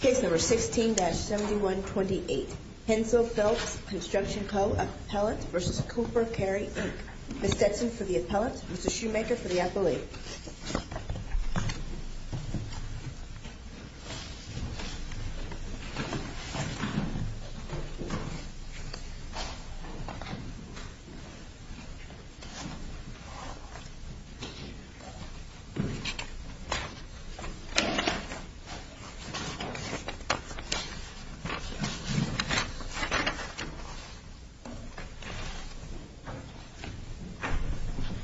Case number 16-7128, Hensel Phelps Construction Co appellate v. Cooper Carry Inc. Ms. Stetson for the appellate, Mr. Shoemaker for the appellate.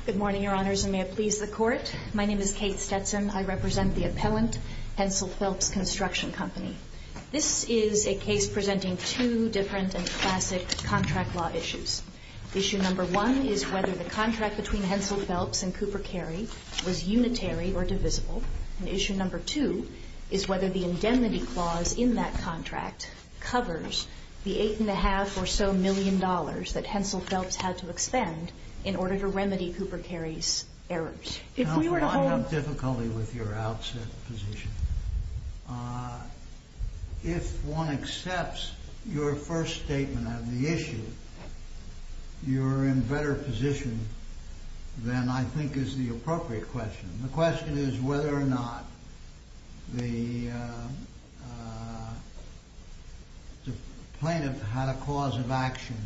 Good morning, Your Honors, and may it please the Court. My name is Kate Stetson. I represent the appellant, Hensel Phelps Construction Company. This is a case presenting two different and classic contract law issues. Issue number one is whether the contract between Hensel is whether the indemnity clause in that contract covers the $8.5 or so million that Hensel Phelps had to expend in order to remedy Cooper Carry's errors. I have difficulty with your outset position. If one accepts your first statement of the issue, you're in better position than I think is the appropriate question. The question is whether or not the plaintiff had a cause of action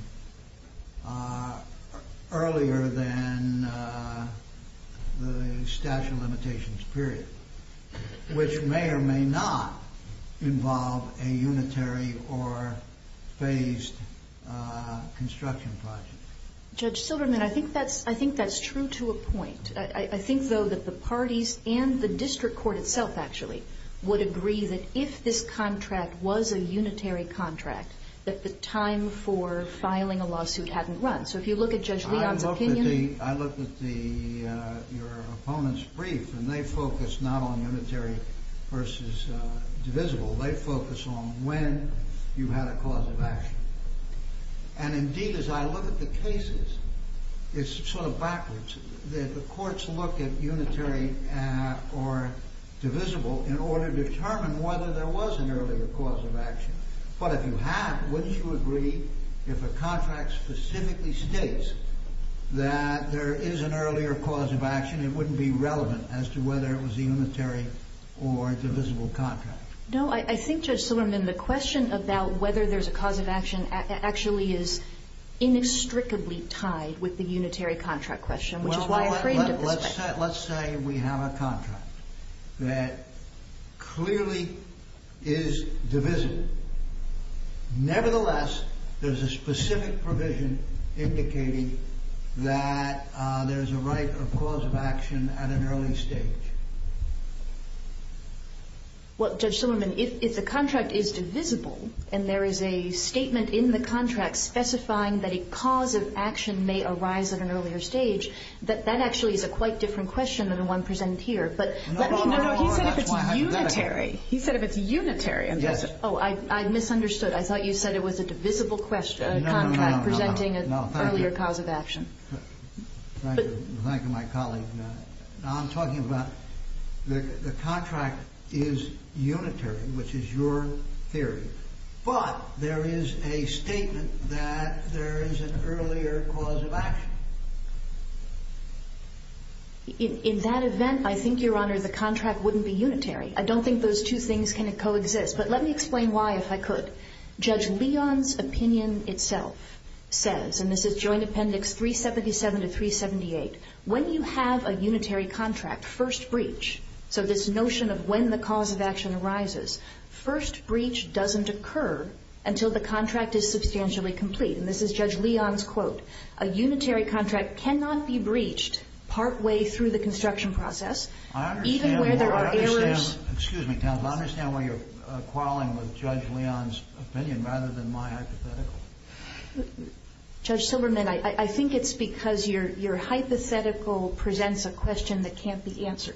earlier than the statute of limitations, period, which may or may not involve a unitary or phased construction project. Judge Silverman, I think that's true to a point. I think, though, that the parties and the district court itself actually would agree that if this contract was a unitary contract that the time for filing a lawsuit hadn't run. So if you look at Judge Leon's opinion I looked at your opponent's brief and they focused not on unitary versus divisible. They focused on when you had a cause of action. And indeed, as I look at the cases, it's sort of backwards that the courts look at unitary or divisible in order to determine whether there was an earlier cause of action. But if you have, wouldn't you agree if a contract specifically states that there is an earlier cause of action, it wouldn't be relevant as to whether it was a unitary or divisible contract? No, I think, Judge Silverman, the question about whether there's a cause of action actually is inextricably tied with the unitary contract question, which is why I framed it this way. Well, let's say we have a contract that clearly is divisible. Nevertheless, there's a specific provision indicating that there's a right of cause of action at an early stage. Well, Judge Silverman, if the contract is divisible and there is a statement in the contract specifying that a cause of action may arise at an earlier stage, that actually is a quite different question than the one presented here. No, no, no. He said if it's unitary. He said if it's unitary. Oh, I misunderstood. I thought you said it was a divisible contract presenting an earlier cause of action. Thank you, my colleague. Now I'm talking about the contract is unitary, which is your theory, but there is a statement that there is an earlier cause of action. In that event, I think, Your Honor, the contract wouldn't be unitary. I don't think those two things can coexist, but let me explain why, if I could. Judge Leon's opinion itself says, and this is Joint Appendix 377 to 378, when you have a unitary contract, first breach, so this notion of when the cause of action arises, first breach doesn't occur until the contract is substantially complete. And this is Judge Leon's quote. A unitary contract cannot be breached partway through the construction process, even where there are errors. I understand why you're quarreling with Judge Leon's opinion rather than my hypothetical. Judge Silberman, I think it's because your hypothetical presents a question that can't be answered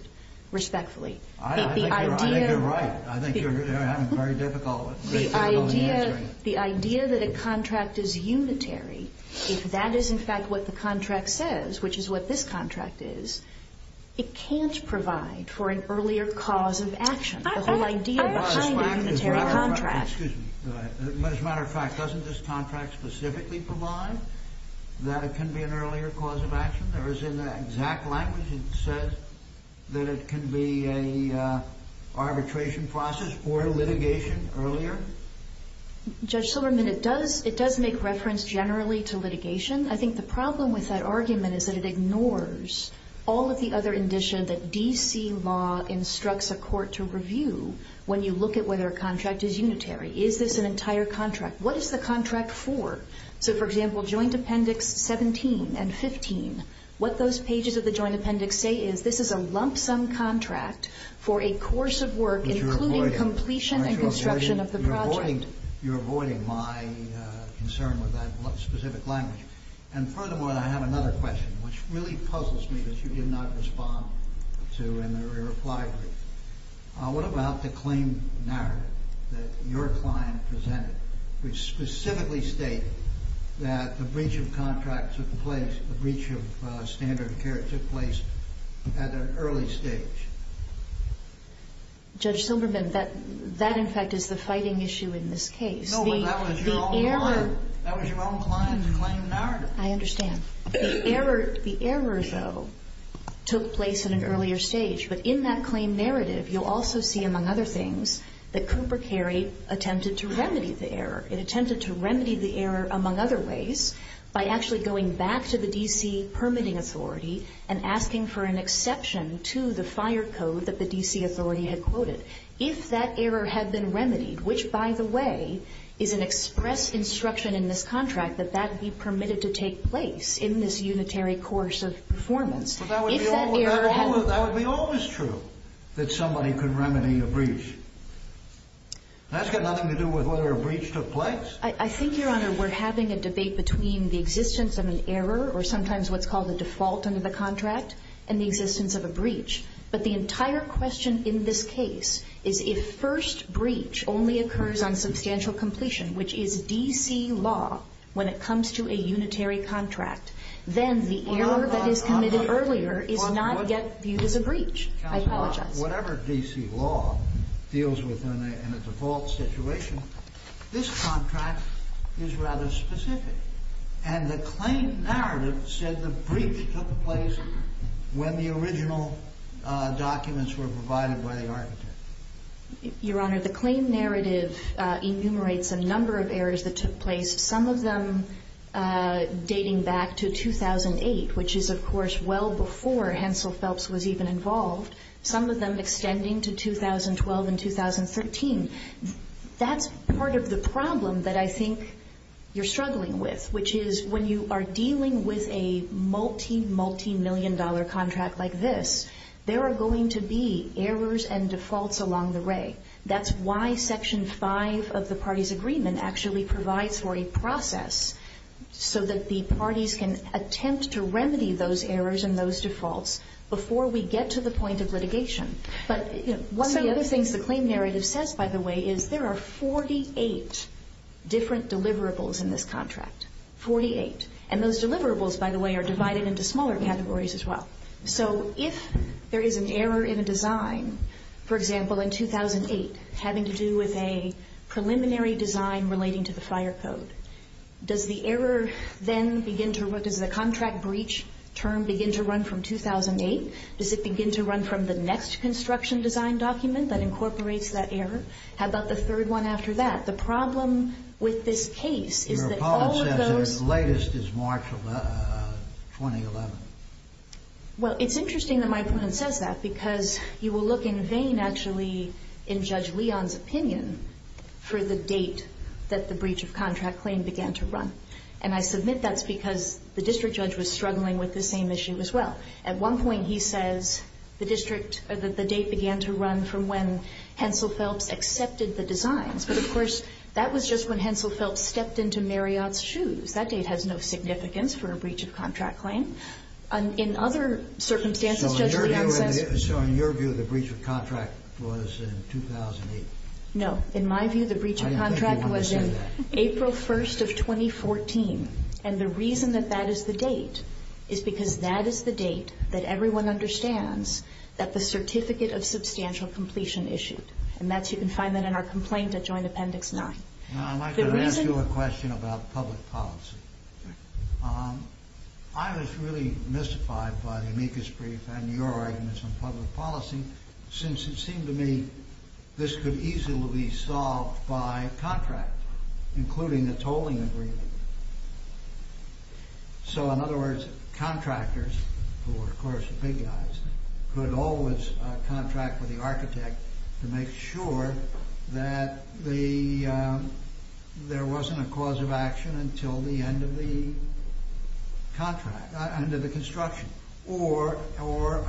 respectfully. I think you're right. I think you're having a very difficult time answering it. The idea that a contract is unitary, if that is in fact what the contract says, which is what this contract is, it can't provide for an earlier cause of action. The whole idea behind a unitary contract. As a matter of fact, doesn't this contract specifically provide that it can be an earlier cause of action? Or is it in the exact language it says that it can be an arbitration process or litigation earlier? Judge Silberman, it does make reference generally to litigation. I think the problem with that when you look at whether a contract is unitary. Is this an entire contract? What is the contract for? So, for example, Joint Appendix 17 and 15, what those pages of the Joint Appendix say is this is a lump sum contract for a course of work including completion and construction of the project. You're avoiding my concern with that specific language. And furthermore, which really puzzles me that you did not respond to in the reply brief. What about the claim narrative that your client presented which specifically states that the breach of contract took place, the breach of standard of care took place at an early stage? Judge Silberman, that in fact is the fighting issue in this case. No, but that was your own client's claim narrative. I understand. The error, though, took place at an earlier stage. But in that claim narrative, you'll also see, among other things, that Cooper Carey attempted to remedy the error. It attempted to remedy the error, among other ways, by actually going back to the D.C. permitting authority and asking for an exception to the fire code that the D.C. authority had quoted. If that error had been remedied, which, by the way, is an express instruction in this contract that that be permitted to take place in this unitary course of performance. But that would be always true that somebody could remedy a breach. That's got nothing to do with whether a breach took place. I think, Your Honor, we're having a debate between the existence of an error or sometimes what's called a default under the contract and the existence of a breach. But the entire question in this case is if first breach only occurs on substantial completion, which is D.C. law, when it comes to a unitary contract, then the error that is committed earlier is not yet viewed as a breach. I apologize. Whatever D.C. law deals with in a default situation, this contract is rather specific. And the claim narrative said the breach took place when the original documents were provided by the architect. Your Honor, the claim narrative enumerates a number of errors that took place, some of them dating back to 2008, which is, of course, well before Hensel Phelps was even involved, some of them extending to 2012 and 2013. That's part of the problem that I think you're struggling with, which is when you are dealing with a multi-multimillion dollar contract like this, there are going to be errors and defaults along the way. That's why Section 5 of the parties' agreement actually provides for a process so that the parties can attempt to remedy those errors and those defaults before we get to the point of litigation. But one of the other things the claim narrative says, by the way, is there are 48 different deliverables in this contract, 48. And those deliverables, by the way, are divided into smaller categories as well. So if there is an error in a design, for example, in 2008, having to do with a preliminary design relating to the fire code, does the error then begin to, does the contract breach term begin to run from 2008? Does it begin to run from the next construction design document that incorporates that error? How about the third one after that? The problem with this case is that All of those Well, it's interesting that my opponent says that because you will look in vain, actually, in Judge Leon's opinion for the date that the breach of contract claim began to run. And I submit that's because the district judge was struggling with the same issue as well. At one point he says the district, or that the date began to run from when Hensel Phelps accepted the designs. But, of course, that was just when Hensel Phelps stepped into Marriott's shoes. That date has no significance for a breach of contract claim. In other circumstances, Judge Leon says So in your view, the breach of contract was in 2008? No. In my view, the breach of contract was in April 1st of 2014. And the reason that that is the date is because that is the date that everyone understands that the Certificate of Substantial Completion issued. And that's, you can find that in our complaint at Joint Appendix 9. Now, I'd like to ask you a question about public policy. I was really mystified by the amicus brief and your arguments on public policy since it seemed to me this could easily be solved by contract, including the tolling agreement. So, in other words, contractors, who are, of course, the big guys, could always contract with the architect to make sure that there wasn't a cause of action until the end of the contract, under the construction or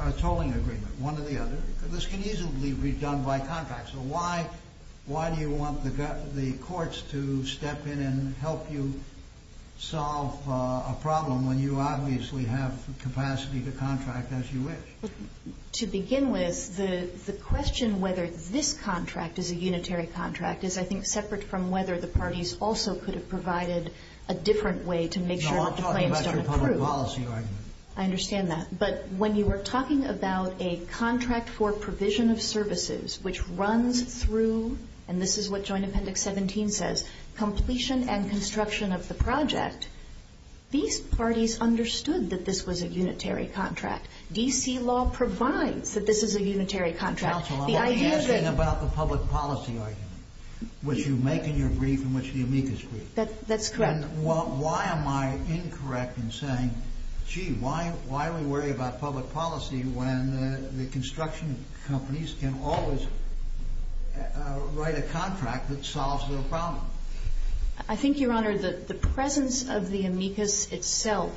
a tolling agreement, one or the other. This can easily be done by contract. So why do you want the courts to step in and help you solve a problem when you obviously have capacity to contract as you wish? To begin with, the question whether this contract is a unitary contract is, I think, separate from whether the parties also could have provided a different way to make sure that the claims don't accrue. No, I'm talking about your public policy argument. I understand that. But when you were talking about a contract for provision of services which runs through, and this is what Joint Appendix 17 says, completion and construction of the project, these parties understood that this was a unitary contract. D.C. law provides that this is a unitary contract. Counsel, I'm only asking about the public policy argument, which you make in your brief in which the amicus brief. That's correct. And why am I incorrect in saying, gee, why are we worried about public policy when the construction companies can always write a contract that solves their problem? I think, Your Honor, the presence of the amicus itself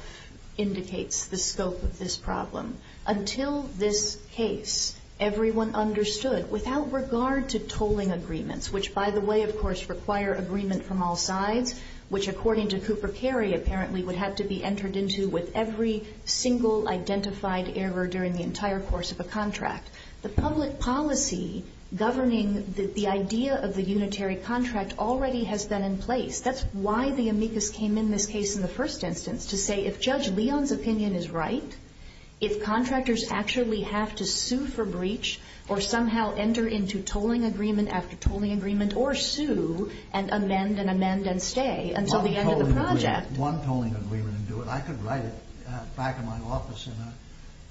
indicates the scope of this problem. Until this case, everyone understood, without regard to tolling agreements, which, by the way, of course, require agreement from all sides, which, according to Cooper Carey, apparently would have to be entered into with every single identified error during the entire course of a contract. The public policy governing the idea of the unitary contract already has been in place. That's why the amicus came in this case in the first instance, to say if Judge Leon's opinion is right, if contractors actually have to sue for breach or somehow enter into tolling agreement after tolling agreement or sue and amend and amend and stay until the end of the project. One tolling agreement would do it. I could write it back in my office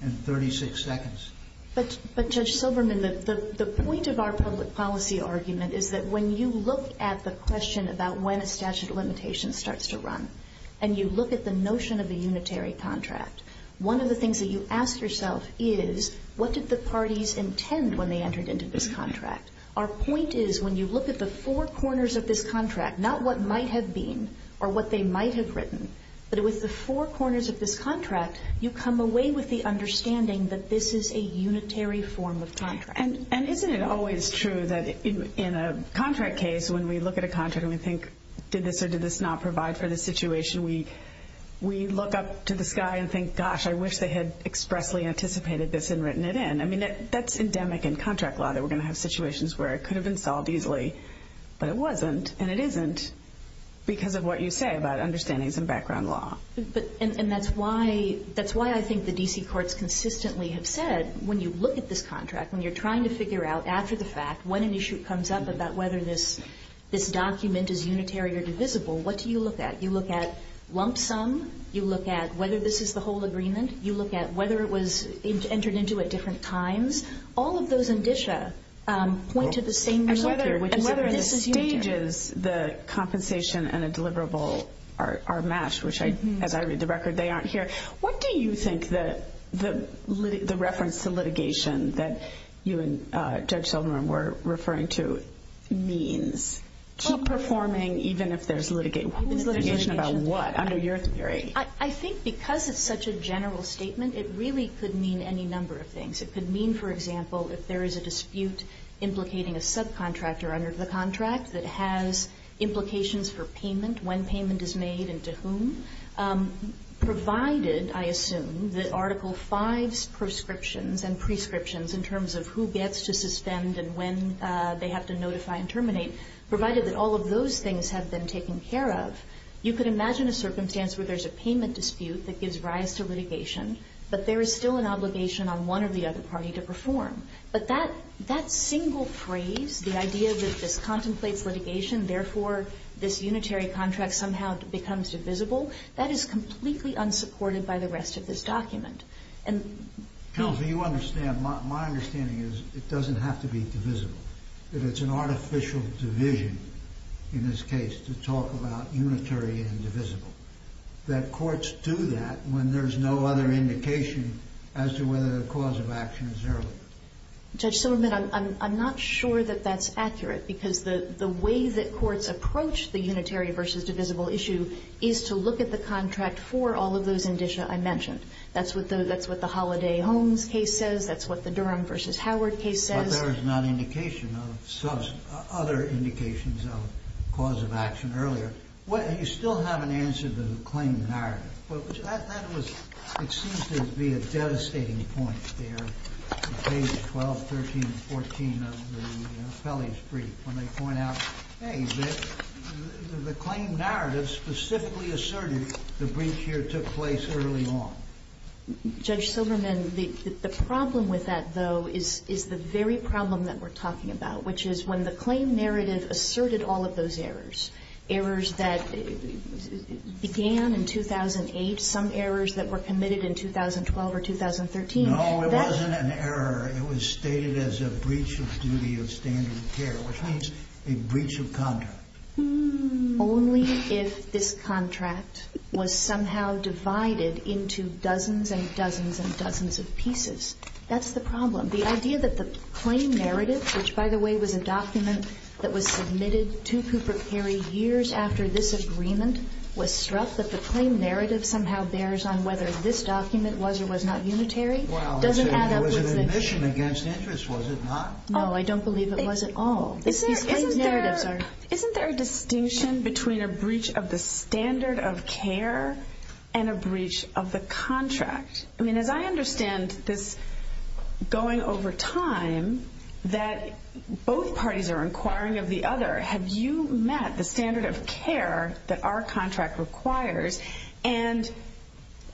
in 36 seconds. But, Judge Silberman, the point of our public policy argument is that when you look at the question about when a statute of limitations starts to run and you look at the notion of a unitary contract, one of the things that you ask yourself is what did the parties intend when they entered into this contract? Our point is when you look at the four corners of this contract, not what might have been or what they might have written, but with the four corners of this contract, you come away with the understanding that this is a unitary form of contract. And isn't it always true that in a contract case, when we look at a contract and we think, did this or did this not provide for the situation, we look up to the sky and think, gosh, I wish they had expressly anticipated this and written it in. I mean, that's endemic in contract law, that we're going to have situations where it could have been solved easily, but it wasn't and it isn't because of what you say about understandings and background law. And that's why I think the D.C. courts consistently have said, when you look at this contract, when you're trying to figure out after the fact when an issue comes up about whether this document is unitary or divisible, what do you look at? You look at lump sum, you look at whether this is the whole agreement, you look at whether it was entered into at different times. All of those indicia point to the same thing. And whether the stages, the compensation and a deliverable are matched, which as I read the record, they aren't here. What do you think the reference to litigation that you and Judge Silverman were referring to means? Keep performing even if there's litigation about what, under your theory? I think because it's such a general statement, it really could mean any number of things. It could mean, for example, if there is a dispute implicating a subcontractor under the contract that has implications for payment, when payment is made and to whom, provided, I assume, that Article V's proscriptions and prescriptions in terms of who gets to suspend and when they have to notify and terminate, provided that all of those things have been taken care of, you could imagine a circumstance where there's a payment dispute that gives rise to litigation, but there is still an obligation on one or the other party to perform. But that single phrase, the idea that this contemplates litigation, therefore this unitary contract somehow becomes divisible, that is completely unsupported by the rest of this document. Counsel, you understand. My understanding is it doesn't have to be divisible, that it's an artificial division in this case to talk about unitary and divisible, that courts do that when there's no other indication as to whether the cause of action is earlier. Judge Silverman, I'm not sure that that's accurate because the way that courts approach the unitary versus divisible issue is to look at the contract for all of those indicia I mentioned. That's what the Holliday-Holmes case says. That's what the Durham v. Howard case says. But there is not indication of other indications of cause of action earlier. You still have an answer to the claim narrative, but that was, it seems to be a devastating point there in pages 12, 13, and 14 of the Pelley's brief when they point out, hey, the claim narrative specifically asserted the breach here took place early on. Judge Silverman, the problem with that, though, is the very problem that we're talking about, which is when the claim narrative asserted all of those errors, errors that began in 2008, some errors that were committed in 2012 or 2013. No, it wasn't an error. It was stated as a breach of duty of standard of care, which means a breach of contract. Only if this contract was somehow divided into dozens and dozens and dozens of pieces. That's the problem. The idea that the claim narrative, which, by the way, was a document that was submitted to Cooper Carey years after this agreement was struck, that the claim narrative somehow bears on whether this document was or was not unitary, doesn't add up with the... There was an admission against interest, was it not? No, I don't believe it was at all. These claim narratives are... Isn't there a distinction between a breach of the standard of care and a breach of the contract? As I understand this going over time, that both parties are inquiring of the other. Have you met the standard of care that our contract requires? And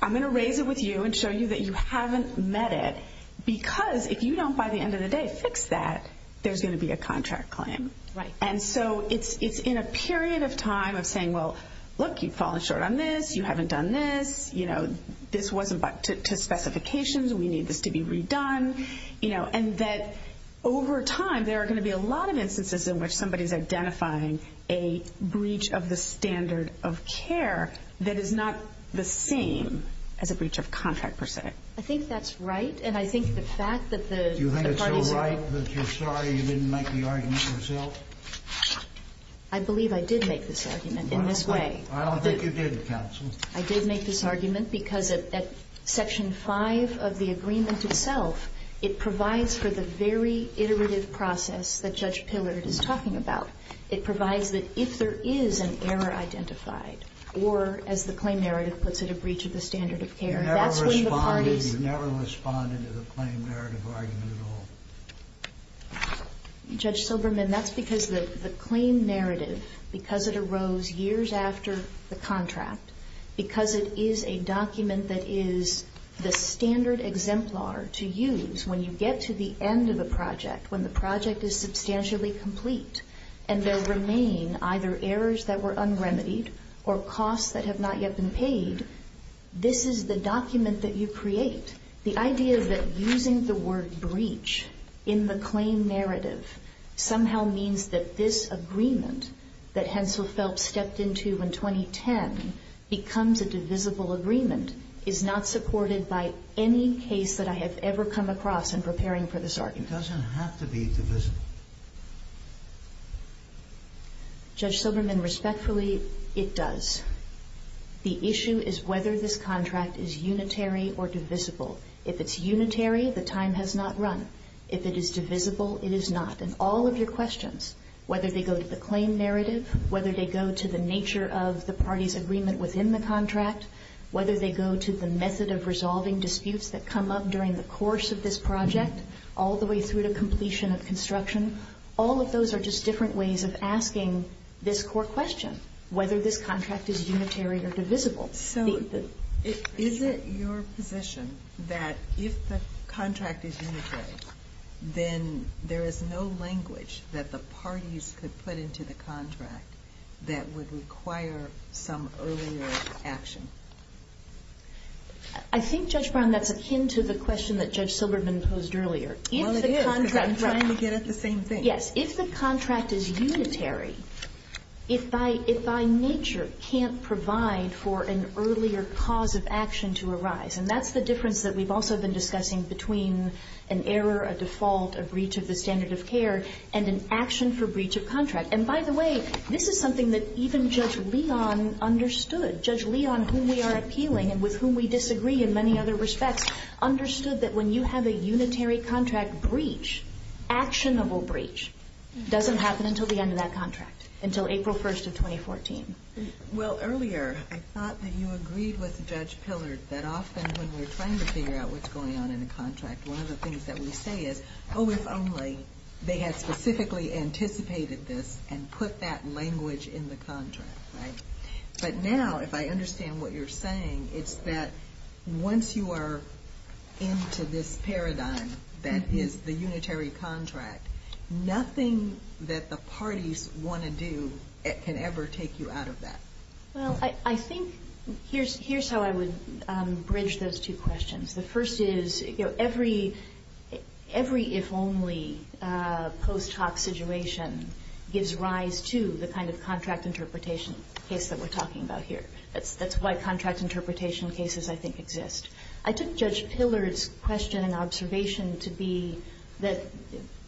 I'm going to raise it with you and show you that you haven't met it because if you don't, by the end of the day, fix that, there's going to be a contract claim. And so it's in a period of time of saying, well, look, you've fallen short on this, you haven't done this, this wasn't to specifications, we need this to be redone. And that over time, there are going to be a lot of instances in which somebody's identifying a breach of the standard of care that is not the same as a breach of contract, per se. I think that's right, and I think the fact that the parties... Do you think it's so right that you're sorry you didn't make the argument yourself? I believe I did make this argument in this way. I don't think you did, counsel. I did make this argument because at Section 5 of the agreement itself, it provides for the very iterative process that Judge Pillard is talking about. It provides that if there is an error identified, or as the claim narrative puts it, a breach of the standard of care, that's when the parties... You never responded to the claim narrative argument at all. Judge Silberman, that's because the claim narrative, because it arose years after the contract, because it is a document that is the standard exemplar to use when you get to the end of a project, when the project is substantially complete, and there remain either errors that were unremitied or costs that have not yet been paid, this is the document that you create. The idea that using the word breach in the claim narrative somehow means that this agreement that Hensel Phelps stepped into in 2010 becomes a divisible agreement is not supported by any case that I have ever come across in preparing for this argument. It doesn't have to be divisible. Judge Silberman, respectfully, it does. The issue is whether this contract is unitary or divisible. If it's unitary, the time has not run. If it is divisible, it is not. And all of your questions, whether they go to the claim narrative, whether they go to the nature of the party's agreement within the contract, whether they go to the method of resolving disputes that come up during the course of this project, all the way through to completion of construction, all of those are just different ways of asking this core question, whether this contract is unitary or divisible. So is it your position that if the contract is unitary, then there is no language that the parties could put into the contract that would require some earlier action? I think, Judge Brown, that's akin to the question that Judge Silberman posed earlier. Well, it is, because I'm trying to get at the same thing. Yes. If the contract is unitary, it by nature can't provide for an earlier cause of action to arise. And that's the difference that we've also been discussing between an error, a default, a breach of the standard of care, and an action for breach of contract. And by the way, this is something that even Judge Leon understood. Judge Leon, whom we are appealing and with whom we disagree in many other respects, understood that when you have a unitary contract breach, actionable breach, it doesn't happen until the end of that contract, until April 1st of 2014. Well, earlier I thought that you agreed with Judge Pillard that often when we're trying to figure out what's going on in a contract, one of the things that we say is, oh, if only they had specifically anticipated this and put that language in the contract, right? But now, if I understand what you're saying, it's that once you are into this paradigm that is the unitary contract, nothing that the parties want to do can ever take you out of that. Well, I think here's how I would bridge those two questions. The first is, you know, every if only post hoc situation gives rise to the kind of contract interpretation case that we're talking about here. That's why contract interpretation cases, I think, exist. I took Judge Pillard's question and observation to be that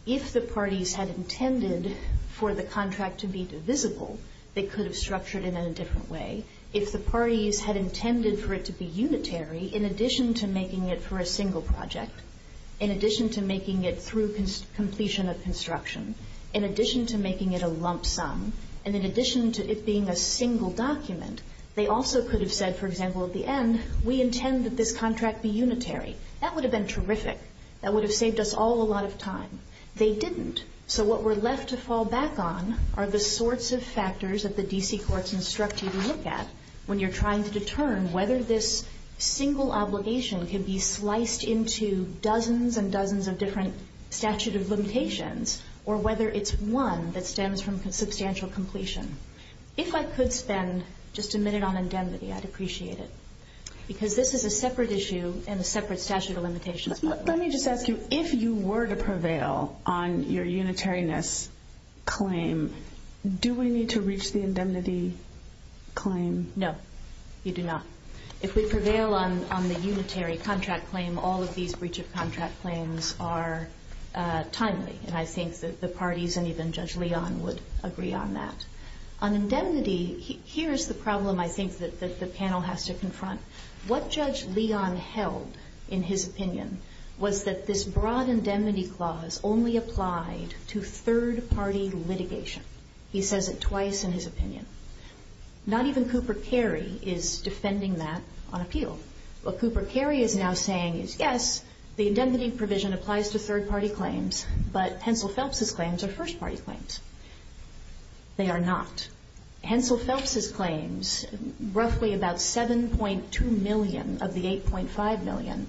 if the parties had intended for the contract to be divisible, they could have structured it in a different way. If the parties had intended for it to be unitary, in addition to making it for a single project, in addition to making it through completion of construction, in addition to making it a lump sum, and in addition to it being a single document, they also could have said, for example, at the end, we intend that this contract be unitary. That would have been terrific. That would have saved us all a lot of time. They didn't. So what we're left to fall back on are the sorts of factors that the D.C. courts instruct you to look at when you're trying to determine whether this single obligation can be sliced into dozens and dozens of different statute of limitations or whether it's one that stems from substantial completion. If I could spend just a minute on indemnity, I'd appreciate it, because this is a separate issue and a separate statute of limitations. Let me just ask you, if you were to prevail on your unitariness claim, do we need to reach the indemnity claim? No, you do not. If we prevail on the unitary contract claim, all of these breach of contract claims are timely, and I think that the parties and even Judge Leon would agree on that. On indemnity, here is the problem I think that the panel has to confront. What Judge Leon held in his opinion was that this broad indemnity clause only applied to third-party litigation. He says it twice in his opinion. Not even Cooper Carey is defending that on appeal. What Cooper Carey is now saying is, yes, the indemnity provision applies to third-party claims, but Hensel Phelps's claims are first-party claims. They are not. Hensel Phelps's claims, roughly about 7.2 million of the 8.5 million,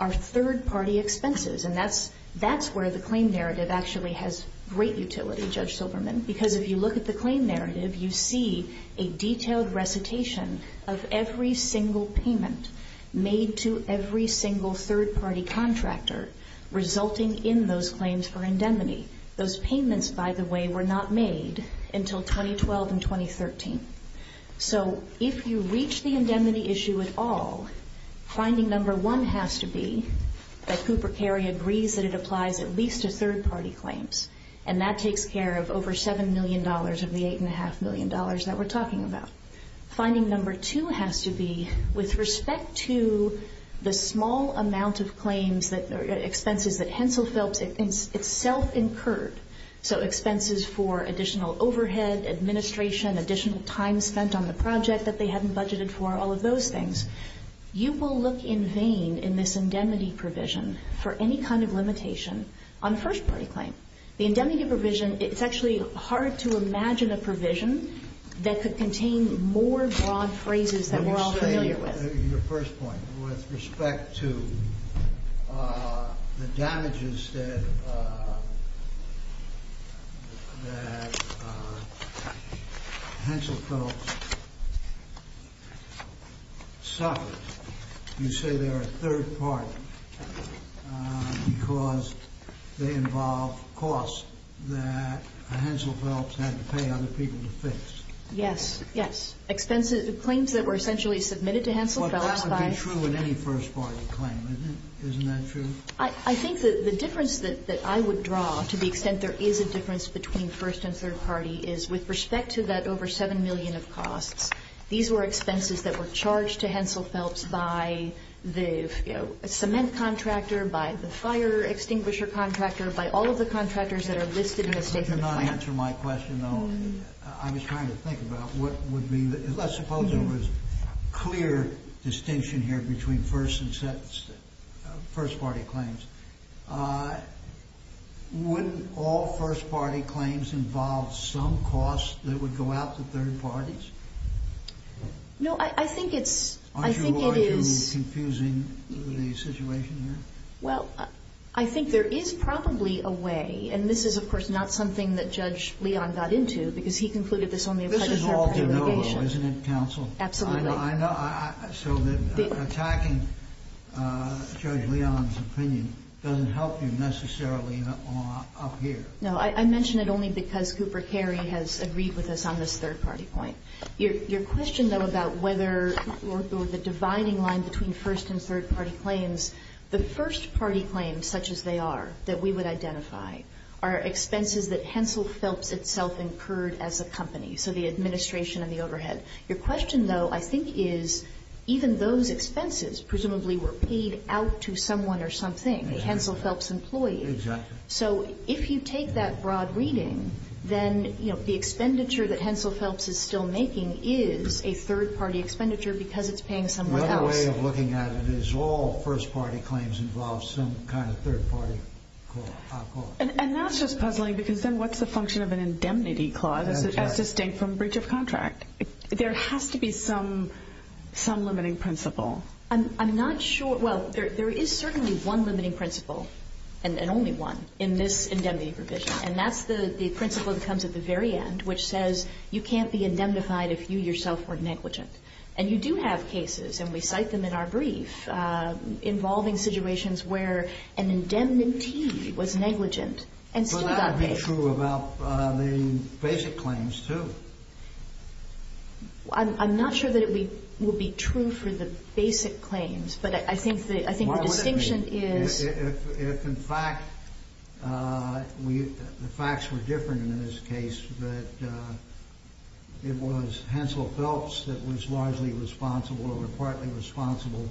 are third-party expenses, and that's where the claim narrative actually has great utility, Judge Silverman, because if you look at the claim narrative, you see a detailed recitation of every single payment made to every single third-party contractor resulting in those claims for indemnity. Those payments, by the way, were not made until 2012 and 2013. So if you reach the indemnity issue at all, finding number one has to be that Cooper Carey agrees that it applies at least to third-party claims, and that takes care of over $7 million of the $8.5 million that we're talking about. Finding number two has to be with respect to the small amount of claims, expenses that Hensel Phelps itself incurred, so expenses for additional overhead, administration, additional time spent on the project that they hadn't budgeted for, all of those things. You will look in vain in this indemnity provision for any kind of limitation on first-party claim. The indemnity provision, it's actually hard to imagine a provision that could contain more broad phrases than we're all familiar with. Your first point, with respect to the damages that Hensel Phelps suffered, you say they're a third-party because they involve costs that Hensel Phelps had to pay other people to fix. Yes, yes. Well, that would be true in any first-party claim, isn't it? Isn't that true? I think the difference that I would draw, to the extent there is a difference between first and third-party, is with respect to that over $7 million of costs, these were expenses that were charged to Hensel Phelps by the cement contractor, by the fire extinguisher contractor, by all of the contractors that are listed in the statement of claim. That does not answer my question, though. I was trying to think about what would be the, let's suppose there was clear distinction here between first and first-party claims. Wouldn't all first-party claims involve some costs that would go out to third parties? No, I think it's, I think it is. Aren't you confusing the situation here? Well, I think there is probably a way, and this is, of course, not something that Judge Leon got into because he concluded this only applies to third-party allegations. This is all de novo, isn't it, counsel? Absolutely. I know. So attacking Judge Leon's opinion doesn't help you necessarily up here. No, I mention it only because Cooper Carey has agreed with us on this third-party point. Your question, though, about whether, or the dividing line between first and third-party claims, the first-party claims such as they are that we would identify are expenses that Hensel Phelps itself incurred as a company, so the administration and the overhead. Your question, though, I think is, even those expenses presumably were paid out to someone or something, a Hensel Phelps employee. Exactly. So if you take that broad reading, then the expenditure that Hensel Phelps is still making is a third-party expenditure because it's paying someone else. Another way of looking at it is all first-party claims involve some kind of third-party cost. And that's just puzzling because then what's the function of an indemnity clause as distinct from breach of contract? There has to be some limiting principle. I'm not sure. Well, there is certainly one limiting principle, and only one, in this indemnity provision, and that's the principle that comes at the very end, which says you can't be indemnified if you yourself are negligent. And you do have cases, and we cite them in our brief, involving situations where an indemnity was negligent and still got paid. But that would be true about the basic claims, too. I'm not sure that it would be true for the basic claims, but I think the distinction is... Well, it would be if, in fact, the facts were different in this case, that it was Hansel Phelps that was largely responsible or partly responsible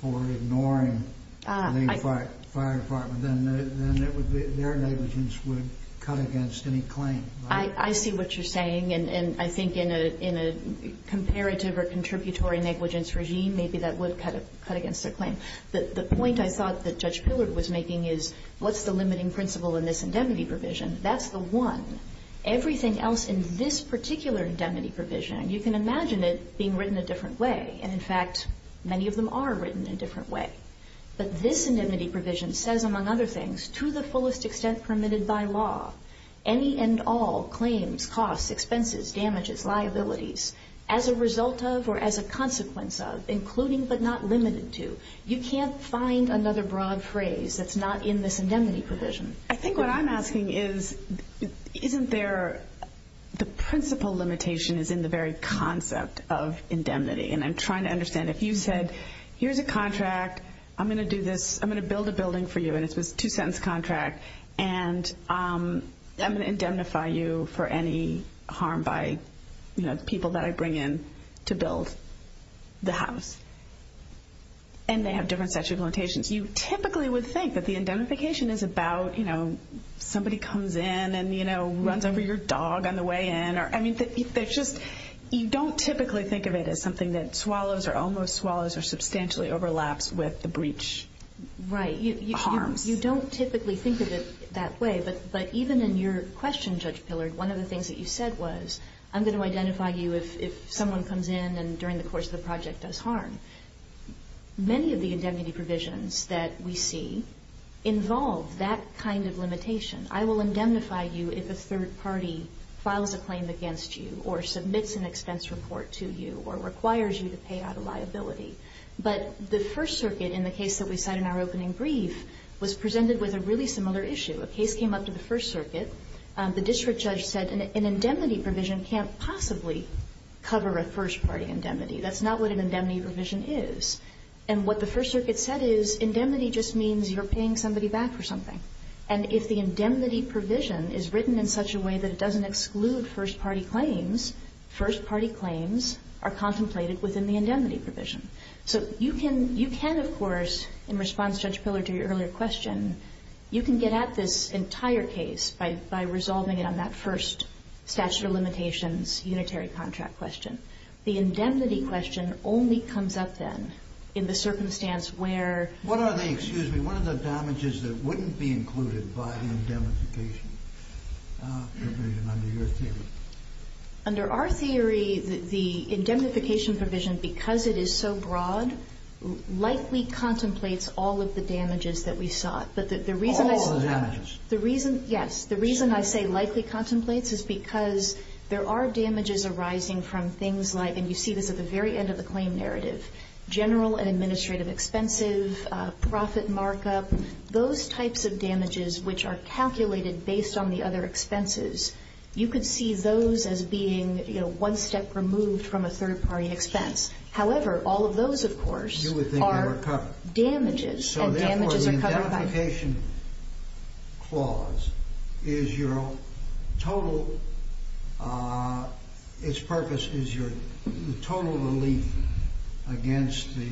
for ignoring the fire department, then their negligence would cut against any claim, right? I see what you're saying, and I think in a comparative or contributory negligence regime, maybe that would cut against their claim. The point I thought that Judge Pillard was making is what's the limiting principle in this indemnity provision? That's the one. Everything else in this particular indemnity provision, you can imagine it being written a different way. And, in fact, many of them are written a different way. But this indemnity provision says, among other things, to the fullest extent permitted by law, any and all claims, costs, expenses, damages, liabilities, as a result of or as a consequence of, including but not limited to. You can't find another broad phrase that's not in this indemnity provision. I think what I'm asking is, isn't there the principle limitation is in the very concept of indemnity? And I'm trying to understand, if you said, here's a contract, I'm going to do this, I'm going to build a building for you, and it's this two-sentence contract, and I'm going to indemnify you for any harm by people that I bring in to build the house, and they have different statute of limitations. You typically would think that the indemnification is about, you know, somebody comes in and, you know, runs over your dog on the way in. I mean, you don't typically think of it as something that swallows or almost swallows or substantially overlaps with the breach harms. Right. You don't typically think of it that way. But even in your question, Judge Pillard, one of the things that you said was, I'm going to identify you if someone comes in and during the course of the project does harm. Many of the indemnity provisions that we see involve that kind of limitation. I will indemnify you if a third party files a claim against you or submits an expense report to you or requires you to pay out a liability. But the First Circuit in the case that we cite in our opening brief was presented with a really similar issue. A case came up to the First Circuit. The district judge said an indemnity provision can't possibly cover a first-party indemnity. That's not what an indemnity provision is. And what the First Circuit said is indemnity just means you're paying somebody back for something. And if the indemnity provision is written in such a way that it doesn't exclude first-party claims, first-party claims are contemplated within the indemnity provision. So you can, of course, in response, Judge Pillard, to your earlier question, you can get at this entire case by resolving it on that first statute of limitations unitary contract question. The indemnity question only comes up then in the circumstance where... What are the, excuse me, what are the damages that wouldn't be included by the indemnification provision under your theory? Under our theory, the indemnification provision, because it is so broad, likely contemplates all of the damages that we sought. But the reason I say... All the damages. The reason, yes, the reason I say likely contemplates is because there are damages arising from things like, and you see this at the very end of the claim narrative, general and administrative expenses, profit markup, those types of damages which are calculated based on the other expenses. You could see those as being, you know, one step removed from a third-party expense. However, all of those, of course, are damages. So therefore, the indemnification clause is your total, its purpose is your total relief against the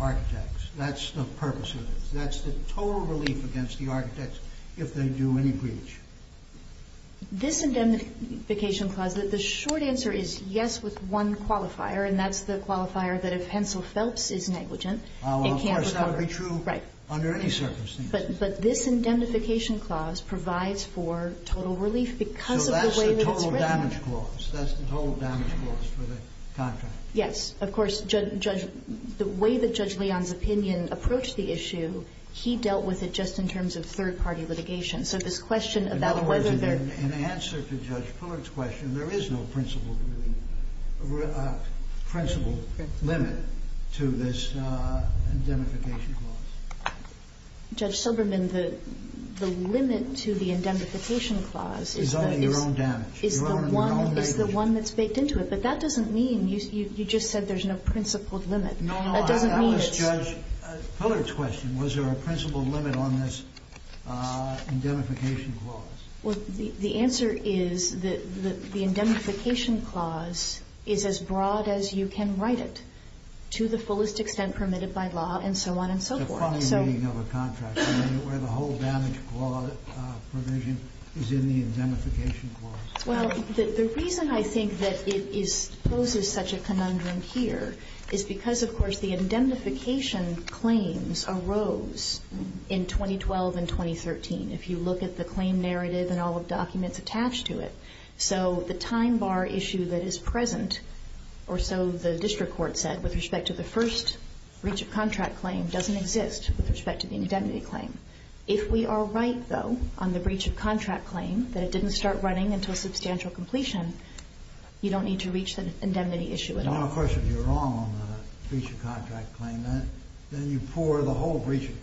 architects. That's the purpose of it. That's the total relief against the architects if they do any breach. This indemnification clause, the short answer is yes with one qualifier, and that's the qualifier that if Hensel Phelps is negligent, it can't recover. Of course, that would be true under any circumstances. But this indemnification clause provides for total relief because of the way that it's written. So that's the total damage clause. That's the total damage clause for the contract. Yes. Of course, Judge, the way that Judge Leon's opinion approached the issue, he dealt with it just in terms of third-party litigation. So this question about whether there... In other words, in answer to Judge Pillard's question, there is no principled limit to this indemnification clause. Judge Soberman, the limit to the indemnification clause is the... Is only your own damage. Is the one that's baked into it. But that doesn't mean you just said there's no principled limit. No. That doesn't mean it's... That was Judge Pillard's question, was there a principled limit on this indemnification clause. Well, the answer is that the indemnification clause is as broad as you can write it, to the fullest extent permitted by law, and so on and so forth. The final meaning of a contract, where the whole damage provision is in the indemnification clause. Well, the reason I think that it poses such a conundrum here is because, of course, the indemnification claims arose in 2012 and 2013. If you look at the claim narrative and all the documents attached to it. So the time bar issue that is present, or so the district court said, with respect to the first breach of contract claim, doesn't exist with respect to the indemnity claim. If we are right, though, on the breach of contract claim, that it didn't start running until substantial completion, you don't need to reach the indemnity issue at all. Well, of course, if you're wrong on the breach of contract claim, then you pour the whole breach of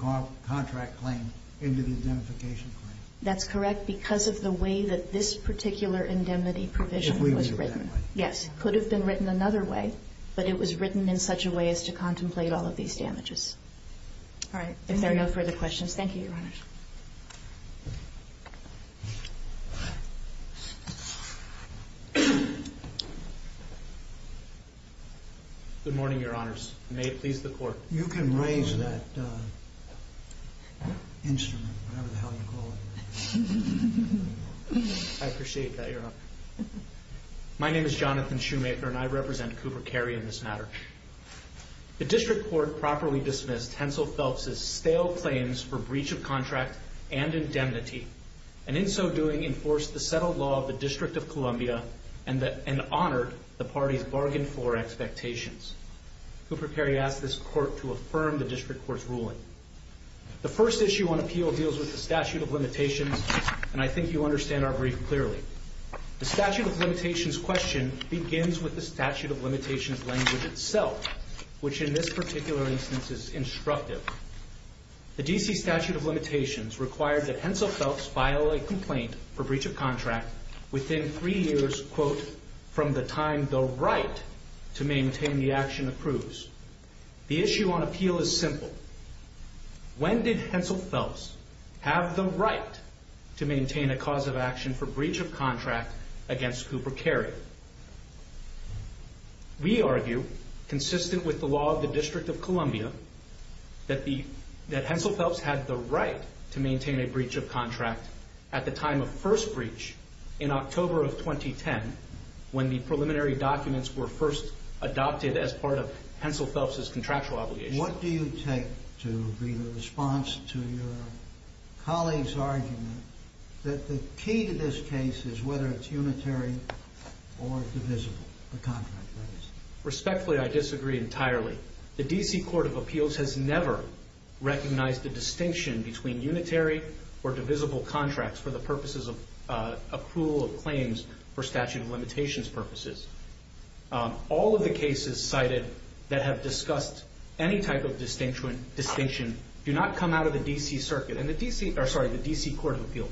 contract claim into the indemnification claim. That's correct, because of the way that this particular indemnity provision was written. Yes. It could have been written another way, but it was written in such a way as to contemplate all of these damages. All right. If there are no further questions, thank you, Your Honors. Good morning, Your Honors. May it please the Court. You can raise that instrument, whatever the hell you call it. I appreciate that, Your Honor. My name is Jonathan Shoemaker, and I represent Cooper Cary in this matter. The district court properly dismissed Hensel Phelps' stale claims for breach of contract and indemnity, and in so doing, enforced the settled law of the District of Columbia and honored the party's bargain floor expectations. Cooper Cary asked this court to affirm the district court's ruling. The first issue on appeal deals with the statute of limitations, and I think you understand our brief clearly. The statute of limitations question begins with the statute of limitations language itself, which in this particular instance is instructive. The D.C. statute of limitations required that Hensel Phelps file a complaint for breach of contract within three years, quote, from the time the right to maintain the action approves. The issue on appeal is simple. When did Hensel Phelps have the right to maintain a cause of action for breach of contract against Cooper Cary? We argue, consistent with the law of the District of Columbia, that Hensel Phelps had the right to maintain a breach of contract at the time of first breach, in October of 2010, when the preliminary documents were first adopted as part of Hensel Phelps' contractual obligation. What do you take to be the response to your colleague's argument that the key to this case is whether it's unitary or divisible, the contract, that is? Respectfully, I disagree entirely. The D.C. Court of Appeals has never recognized the distinction between unitary or divisible contracts for the purposes of accrual of claims for statute of limitations purposes. All of the cases cited that have discussed any type of distinction do not come out of the D.C. Circuit. Sorry, the D.C. Court of Appeals.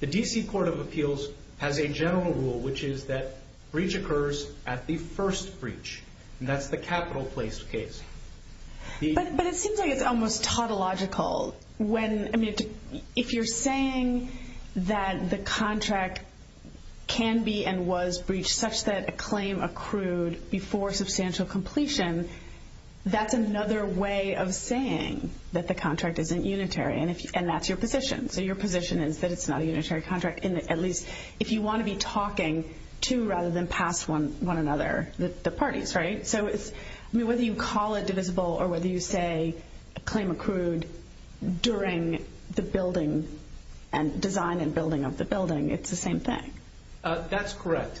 The D.C. Court of Appeals has a general rule, which is that breach occurs at the first breach, and that's the capital-placed case. But it seems like it's almost tautological. If you're saying that the contract can be and was breached such that a claim accrued before substantial completion, that's another way of saying that the contract isn't unitary, and that's your position. So your position is that it's not a unitary contract, at least if you want to be talking to rather than past one another, the parties, right? So whether you call it divisible or whether you say a claim accrued during the building and design and building of the building, it's the same thing. That's correct.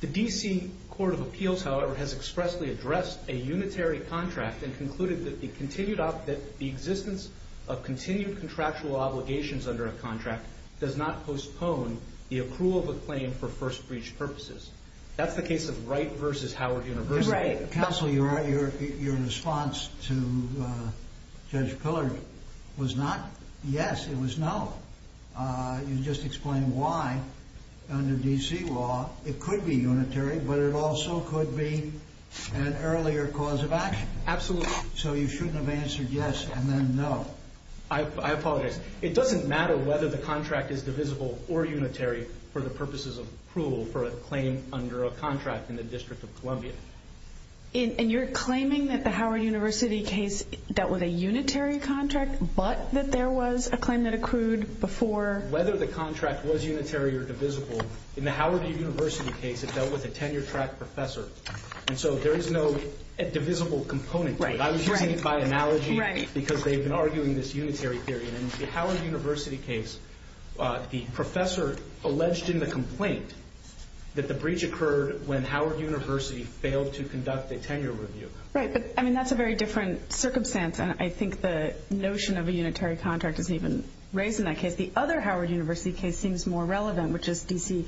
The D.C. Court of Appeals, however, has expressly addressed a unitary contract and concluded that the existence of continued contractual obligations under a contract does not postpone the accrual of a claim for first breach purposes. That's the case of Wright v. Howard University. Counsel, you're right. Your response to Judge Pillard was not yes, it was no. You just explained why, under D.C. law, it could be unitary, but it also could be an earlier cause of action. Absolutely. So you shouldn't have answered yes and then no. I apologize. It doesn't matter whether the contract is divisible or unitary for the purposes of accrual for a claim under a contract in the District of Columbia. And you're claiming that the Howard University case dealt with a unitary contract but that there was a claim that accrued before? Whether the contract was unitary or divisible, in the Howard University case it dealt with a tenure-track professor. And so there is no divisible component to it. I was using it by analogy because they've been arguing this unitary theory and in the Howard University case the professor alleged in the complaint that the breach occurred when Howard University failed to conduct a tenure review. Right, but that's a very different circumstance, and I think the notion of a unitary contract isn't even raised in that case. The other Howard University case seems more relevant, which is D.C.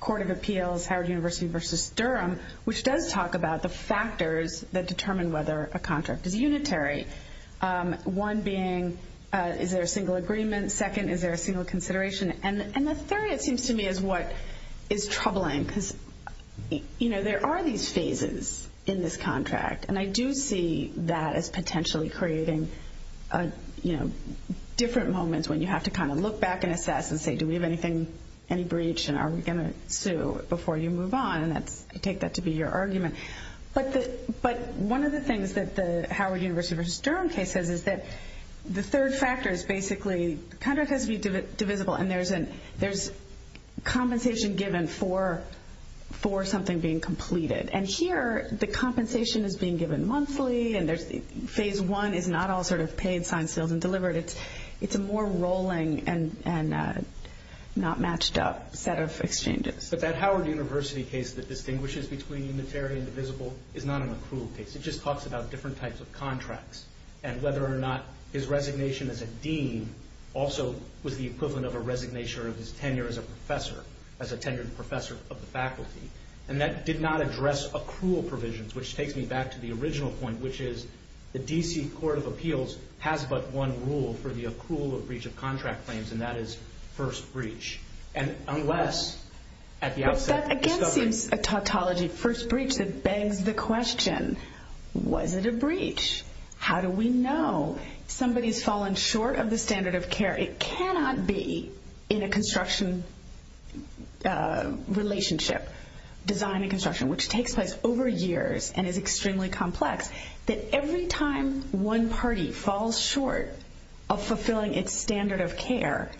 Court of Appeals, Howard University v. Durham, which does talk about the factors that determine whether a contract is unitary, one being, is there a single agreement? Second, is there a single consideration? And the third, it seems to me, is what is troubling because there are these phases in this contract, and I do see that as potentially creating different moments when you have to kind of look back and assess and say, do we have any breach and are we going to sue before you move on? And I take that to be your argument. But one of the things that the Howard University v. Durham case says is that the third factor is basically the contract has to be divisible and there's compensation given for something being completed. And here the compensation is being given monthly and phase one is not all sort of paid, signed, sealed, and delivered. It's a more rolling and not matched up set of exchanges. But that Howard University case that distinguishes between unitary and divisible is not an accrual case. It just talks about different types of contracts and whether or not his resignation as a dean also was the equivalent of a resignation of his tenure as a professor, as a tenured professor of the faculty. And that did not address accrual provisions, which takes me back to the original point, which is the D.C. Court of Appeals has but one rule for the accrual of breach of contract claims, and that is first breach. And unless at the outset... But that again seems a tautology. First breach that begs the question, was it a breach? How do we know? Somebody's fallen short of the standard of care. It cannot be in a construction relationship, design and construction, which takes place over years and is extremely complex, that every time one party falls short of fulfilling its standard of care,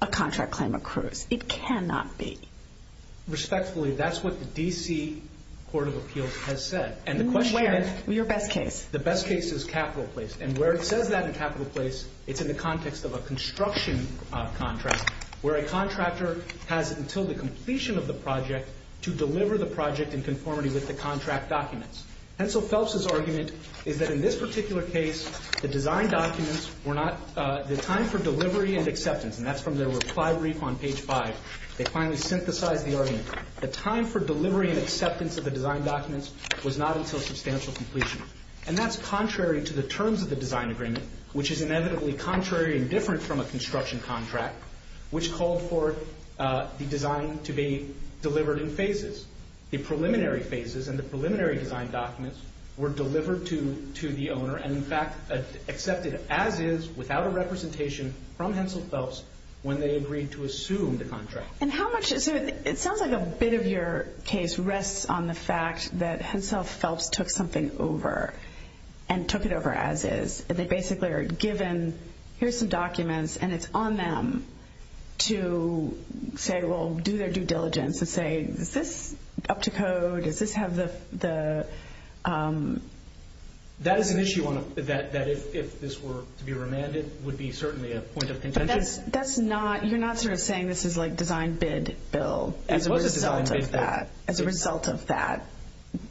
a contract claim accrues. It cannot be. Respectfully, that's what the D.C. Court of Appeals has said. And the question is... Where? Your best case. The best case is Capital Place. And where it says that in Capital Place, it's in the context of a construction contract where a contractor has until the completion of the project to deliver the project in conformity with the contract documents. And so Phelps' argument is that in this particular case, the design documents were not... And that's from their reply brief on page 5. They finally synthesized the argument. The time for delivery and acceptance of the design documents was not until substantial completion. And that's contrary to the terms of the design agreement, which is inevitably contrary and different from a construction contract, which called for the design to be delivered in phases. The preliminary phases and the preliminary design documents were delivered to the owner and, in fact, accepted as is without a representation from Hensel Phelps when they agreed to assume the contract. And how much... It sounds like a bit of your case rests on the fact that Hensel Phelps took something over and took it over as is. They basically are given, here's some documents, and it's on them to say, well, do their due diligence and say, is this up to code? Does this have the... That is an issue that, if this were to be remanded, would be certainly a point of contention. But that's not... You're not sort of saying this is like design-bid-build as a result of that. As a result of that.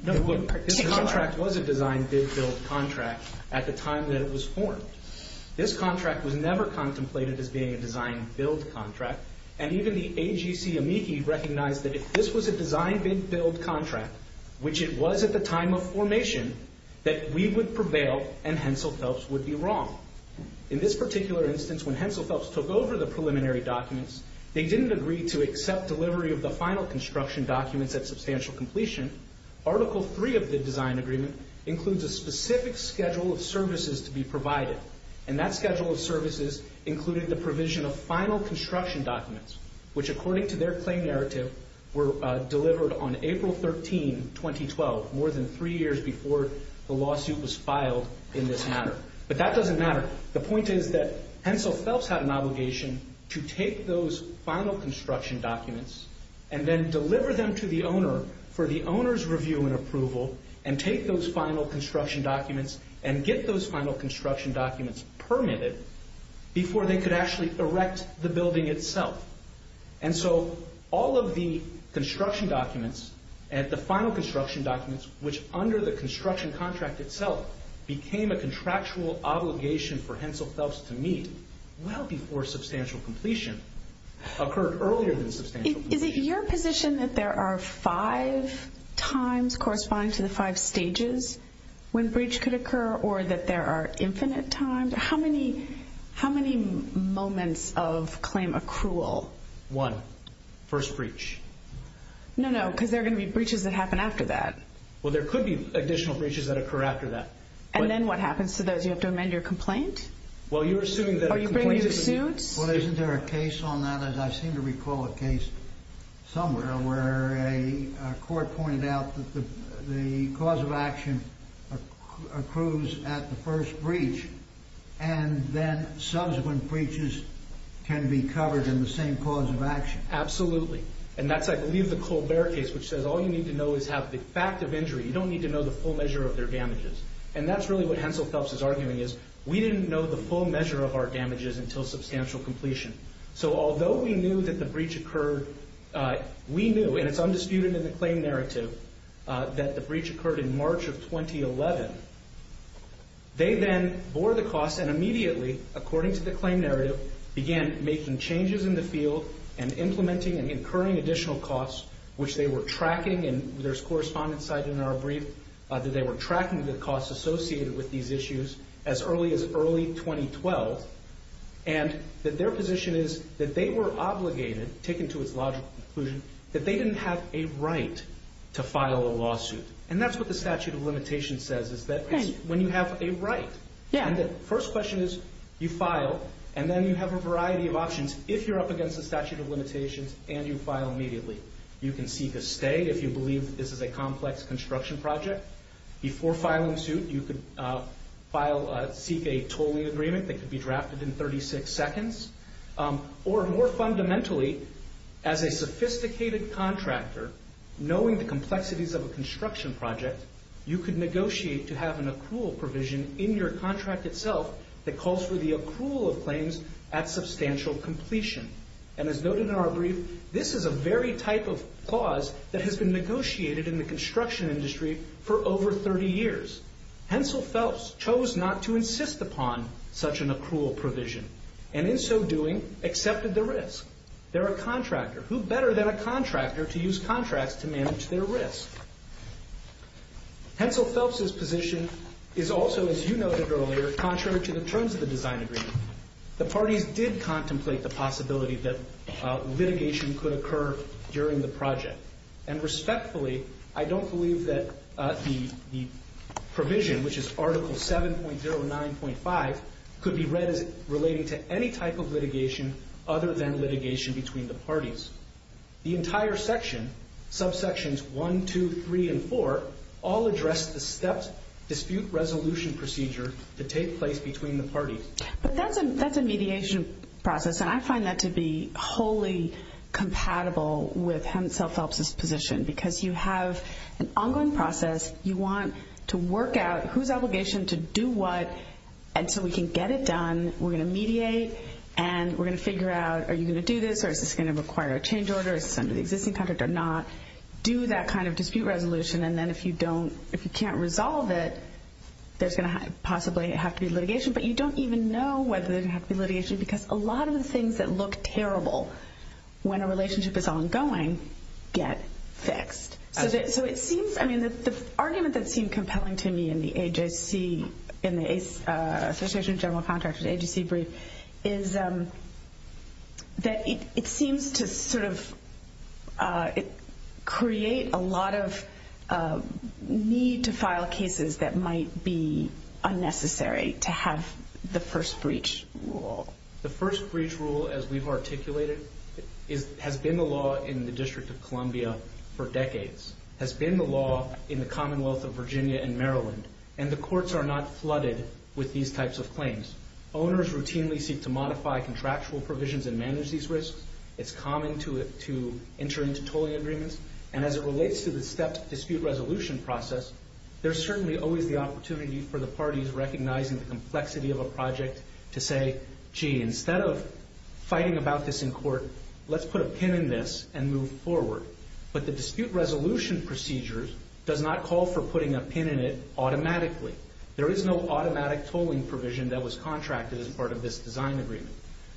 No, look, this contract was a design-bid-build contract at the time that it was formed. This contract was never contemplated as being a design-build contract, and even the AGC amici recognized that if this was a design-bid-build contract, which it was at the time of formation, that we would prevail and Hensel Phelps would be wrong. In this particular instance, when Hensel Phelps took over the preliminary documents, they didn't agree to accept delivery of the final construction documents at substantial completion. Article 3 of the design agreement includes a specific schedule of services to be provided. And that schedule of services included the provision of final construction documents, which, according to their claim narrative, were delivered on April 13, 2012, more than three years before the lawsuit was filed in this matter. But that doesn't matter. The point is that Hensel Phelps had an obligation to take those final construction documents and then deliver them to the owner for the owner's review and approval, and take those final construction documents and get those final construction documents permitted before they could actually erect the building itself. And so all of the construction documents, the final construction documents, which under the construction contract itself became a contractual obligation for Hensel Phelps to meet well before substantial completion, occurred earlier than substantial completion. Is it your position that there are five times corresponding to the five stages when breach could occur, or that there are infinite times? How many moments of claim accrual? One. First breach. No, no, because there are going to be breaches that happen after that. Well, there could be additional breaches that occur after that. And then what happens to those? Do you have to amend your complaint? Are you bringing your suits? Well, isn't there a case on that? I seem to recall a case somewhere where a court pointed out that the cause of action accrues at the first breach, and then subsequent breaches can be covered in the same cause of action. And that's, I believe, the Colbert case, which says all you need to know is have the fact of injury. You don't need to know the full measure of their damages. And that's really what Hensel Phelps is arguing is we didn't know the full measure of our damages until substantial completion. So although we knew that the breach occurred, we knew, and it's undisputed in the claim narrative, that the breach occurred in March of 2011. They then bore the cost and immediately, according to the claim narrative, began making changes in the field and implementing and incurring additional costs, which they were tracking, and there's correspondence cited in our brief, that they were tracking the costs associated with these issues as early as early 2012, and that their position is that they were obligated, taken to its logical conclusion, that they didn't have a right to file a lawsuit. And that's what the statute of limitations says, is that when you have a right, and the first question is you file, and then you have a variety of options. If you're up against the statute of limitations and you file immediately, you can seek a stay if you believe this is a complex construction project. Before filing suit, you could seek a tolling agreement that could be drafted in 36 seconds. Or more fundamentally, as a sophisticated contractor, knowing the complexities of a construction project, you could negotiate to have an accrual provision in your contract itself that calls for the accrual of claims at substantial completion. And as noted in our brief, this is a very type of clause that has been negotiated in the construction industry for over 30 years. Hensel Phelps chose not to insist upon such an accrual provision, and in so doing, accepted the risk. They're a contractor. Who better than a contractor to use contracts to manage their risk? Hensel Phelps's position is also, as you noted earlier, contrary to the terms of the design agreement. The parties did contemplate the possibility that litigation could occur during the project. And respectfully, I don't believe that the provision, which is Article 7.09.5, could be read as relating to any type of litigation other than litigation between the parties. The entire section, subsections 1, 2, 3, and 4, all address the stepped dispute resolution procedure that take place between the parties. But that's a mediation process, and I find that to be wholly compatible with Hensel Phelps's position because you have an ongoing process. You want to work out whose obligation to do what until we can get it done. We're going to mediate, and we're going to figure out, are you going to do this, or is this going to require a change order? Is this under the existing contract or not? Do that kind of dispute resolution, and then if you don't, if you can't resolve it, there's going to possibly have to be litigation. But you don't even know whether there's going to have to be litigation because a lot of the things that look terrible when a relationship is ongoing get fixed. So it seems, I mean, the argument that seemed compelling to me in the Association of General Contractors agency brief is that it seems to sort of create a lot of need to file cases that might be unnecessary to have the first breach rule. The first breach rule, as we've articulated, has been the law in the District of Columbia for decades, has been the law in the Commonwealth of Virginia and Maryland, and the courts are not flooded with these types of claims. Owners routinely seek to modify contractual provisions and manage these risks. It's common to enter into tolling agreements, and as it relates to the stepped dispute resolution process, there's certainly always the opportunity for the parties recognizing the complexity of a project to say, gee, instead of fighting about this in court, let's put a pin in this and move forward. But the dispute resolution procedures does not call for putting a pin in it automatically. There is no automatic tolling provision that was contracted as part of this design agreement.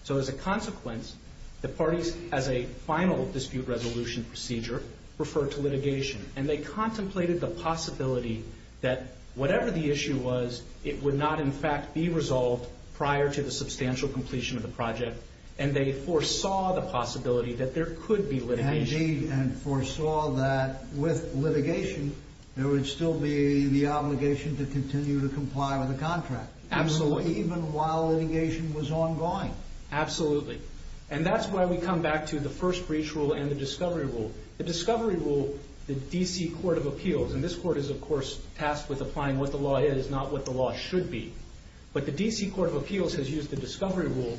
So as a consequence, the parties, as a final dispute resolution procedure, referred to litigation, and they contemplated the possibility that whatever the issue was, it would not in fact be resolved prior to the substantial completion of the project, and they foresaw the possibility that there could be litigation. Indeed, and foresaw that with litigation, there would still be the obligation to continue to comply with the contract. Absolutely. Even while litigation was ongoing. Absolutely. And that's why we come back to the first breach rule and the discovery rule. The discovery rule, the D.C. Court of Appeals, and this court is, of course, tasked with applying what the law is, not what the law should be, but the D.C. Court of Appeals has used the discovery rule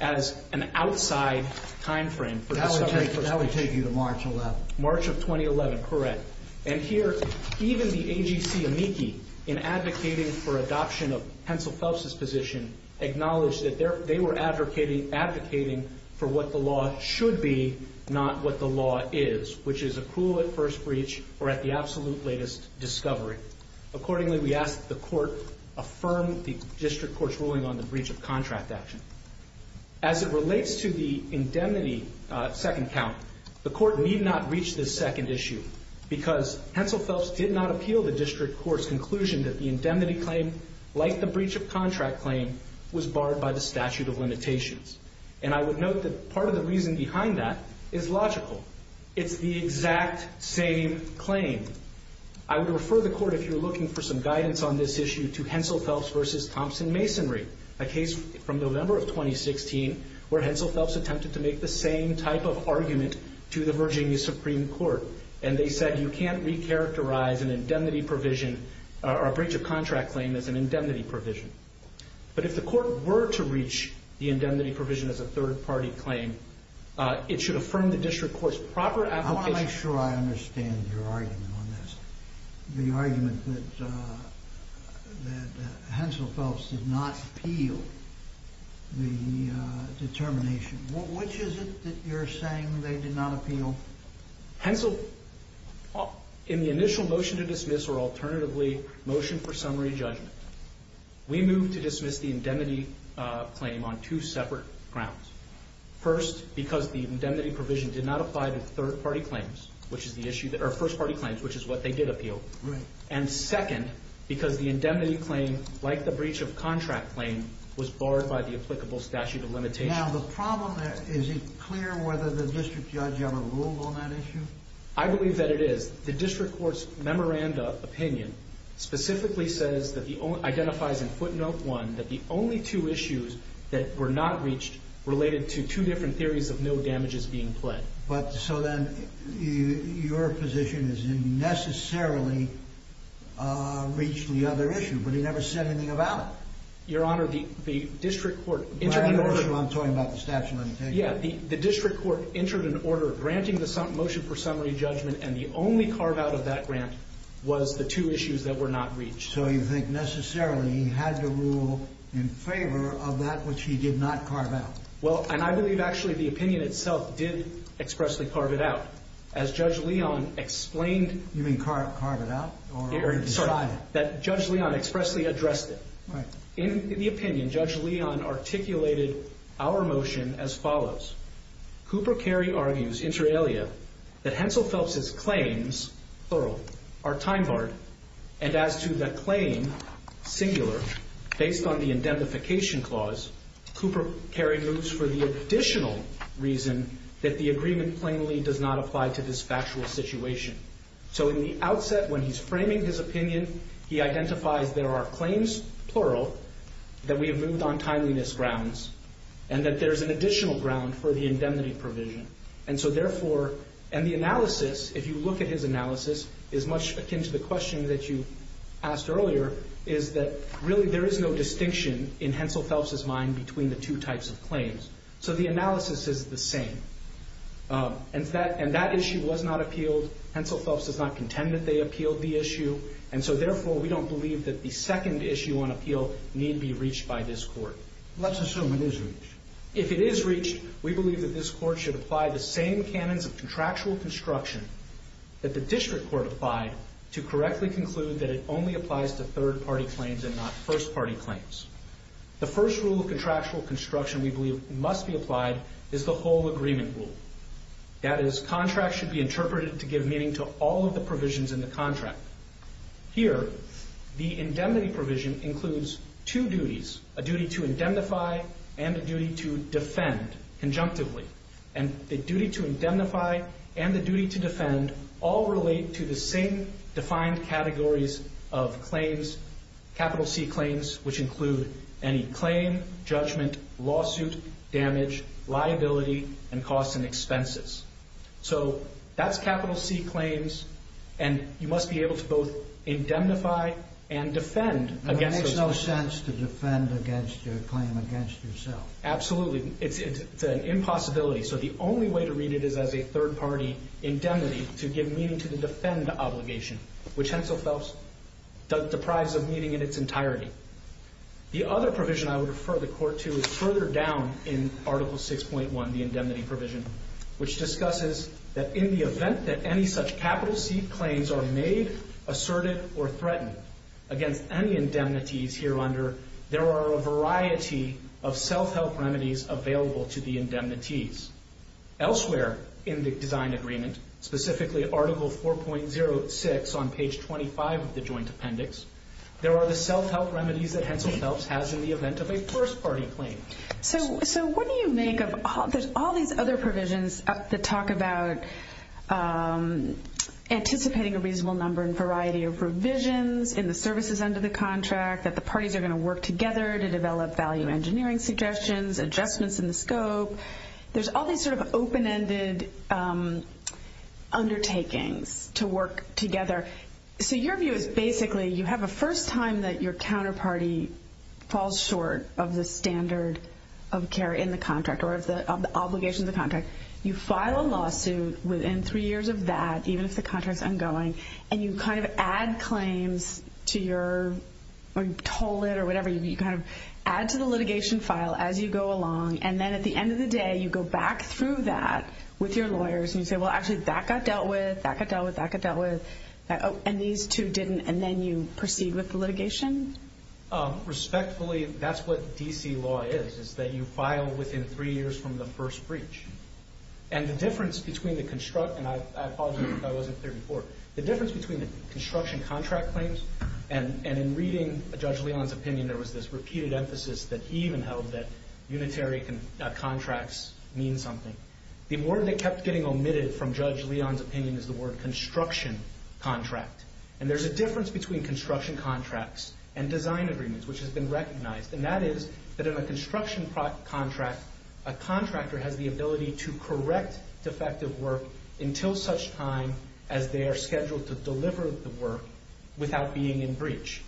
as an outside time frame for discovery. That would take you to March 11th. March of 2011, correct. And here, even the AGC amici, in advocating for adoption of Hensel Phelps's position, acknowledged that they were advocating for what the law should be, not what the law is, which is accrual at first breach or at the absolute latest discovery. Accordingly, we ask that the court affirm the district court's ruling on the breach of contract action. As it relates to the indemnity second count, the court need not reach this second issue because Hensel Phelps did not appeal the district court's conclusion that the indemnity claim, like the breach of contract claim, was barred by the statute of limitations. And I would note that part of the reason behind that is logical. It's the exact same claim. I would refer the court, if you're looking for some guidance on this issue, to Hensel Phelps v. Thompson Masonry, a case from November of 2016, where Hensel Phelps attempted to make the same type of argument to the Virginia Supreme Court. And they said, you can't recharacterize an indemnity provision or a breach of contract claim as an indemnity provision. But if the court were to reach the indemnity provision as a third-party claim, it should affirm the district court's proper application... I want to make sure I understand your argument on this. The argument that Hensel Phelps did not appeal the determination. Which is it that you're saying they did not appeal? Hensel, in the initial motion to dismiss or alternatively motion for summary judgment, we moved to dismiss the indemnity claim on two separate grounds. First, because the indemnity provision did not apply to third-party claims, which is the issue that... or first-party claims, which is what they did appeal. And second, because the indemnity claim, like the breach of contract claim, was barred by the applicable statute of limitations. Now, the problem there, is it clear whether the district judge had a rule on that issue? I believe that it is. The district court's memoranda opinion specifically says that the... identifies in footnote one that the only two issues that were not reached related to two different theories of no damages being pled. But so then, your position is he necessarily reached the other issue, but he never said anything about it. Your Honor, the district court... Larry Orshel, I'm talking about the statute of limitations. Yeah, the district court entered an order granting the motion for summary judgment and the only carve-out of that grant was the two issues that were not reached. So you think necessarily he had to rule in favor of that which he did not carve out. Well, and I believe actually the opinion itself did expressly carve it out. As Judge Leon explained... You mean carve it out? Sorry, that Judge Leon expressly addressed it. In the opinion, Judge Leon articulated our motion as follows. Cooper Carey argues, inter alia, that Hensel Phelps' claims, thorough, are time-barred and as to the claim, singular, based on the indemnification clause, Cooper Carey moves for the additional reason that the agreement plainly does not apply to this factual situation. So in the outset, when he's framing his opinion, he identifies there are claims, plural, that we have moved on timeliness grounds and that there's an additional ground for the indemnity provision. And so therefore, and the analysis, if you look at his analysis, is much akin to the question that you asked earlier, is that really there is no distinction in Hensel Phelps' mind between the two types of claims. So the analysis is the same. And that issue was not appealed. Hensel Phelps does not contend that they appealed the issue. And so therefore, we don't believe that the second issue on appeal need be reached by this Court. Let's assume it is reached. If it is reached, we believe that this Court should apply the same canons of contractual construction that the District Court applied to correctly conclude that it only applies to third-party claims and not first-party claims. The first rule of contractual construction we believe must be applied is the whole agreement rule. That is, contracts should be interpreted to give meaning to all of the provisions in the contract. Here, the indemnity provision includes two duties, a duty to indemnify and a duty to defend, conjunctively. And the duty to indemnify and the duty to defend all relate to the same defined categories of claims, capital C claims, which include any claim, judgment, lawsuit, damage, liability, and costs and expenses. So that's capital C claims, and you must be able to both indemnify and defend against it. It makes no sense to defend against your claim against yourself. Absolutely. It's an impossibility. So the only way to read it is as a third-party indemnity to give meaning to the defend obligation, which Hensel Phelps deprives of meaning in its entirety. The other provision I would refer the court to is further down in Article 6.1, the indemnity provision, which discusses that in the event that any such capital C claims are made, asserted, or threatened against any indemnities here under, there are a variety of self-help remedies available to the indemnities. Elsewhere in the design agreement, specifically Article 4.06 on page 25 of the Joint Appendix, there are the self-help remedies that Hensel Phelps has in the event of a first-party claim. So what do you make of all these other provisions that talk about anticipating a reasonable number and variety of revisions in the services under the contract, that the parties are going to work together to develop value engineering suggestions, adjustments in the scope. There's all these sort of open-ended undertakings to work together. So your view is basically you have a first time that your counterparty falls short of the standard of care in the contract or of the obligations of the contract. You file a lawsuit within three years of that, even if the contract's ongoing, and you kind of add claims to your, or you toll it or whatever. You kind of add to the litigation file as you go along. And then at the end of the day, you go back through that with your lawyers and you say, well, actually, that got dealt with, that got dealt with, that got dealt with, and these two didn't, and then you proceed with the litigation? Respectfully, that's what D.C. law is, is that you file within three years from the first breach. And the difference between the construction, and I apologize if I wasn't clear before, the difference between the construction contract claims and in reading Judge Leon's opinion, there was this repeated emphasis that he even held that unitary contracts mean something. The word that kept getting omitted from Judge Leon's opinion is the word construction contract. And there's a difference between construction contracts and design agreements, which has been recognized, and that is that in a construction contract, a contractor has the ability to correct defective work until such time as they are scheduled to deliver the work without being in breach.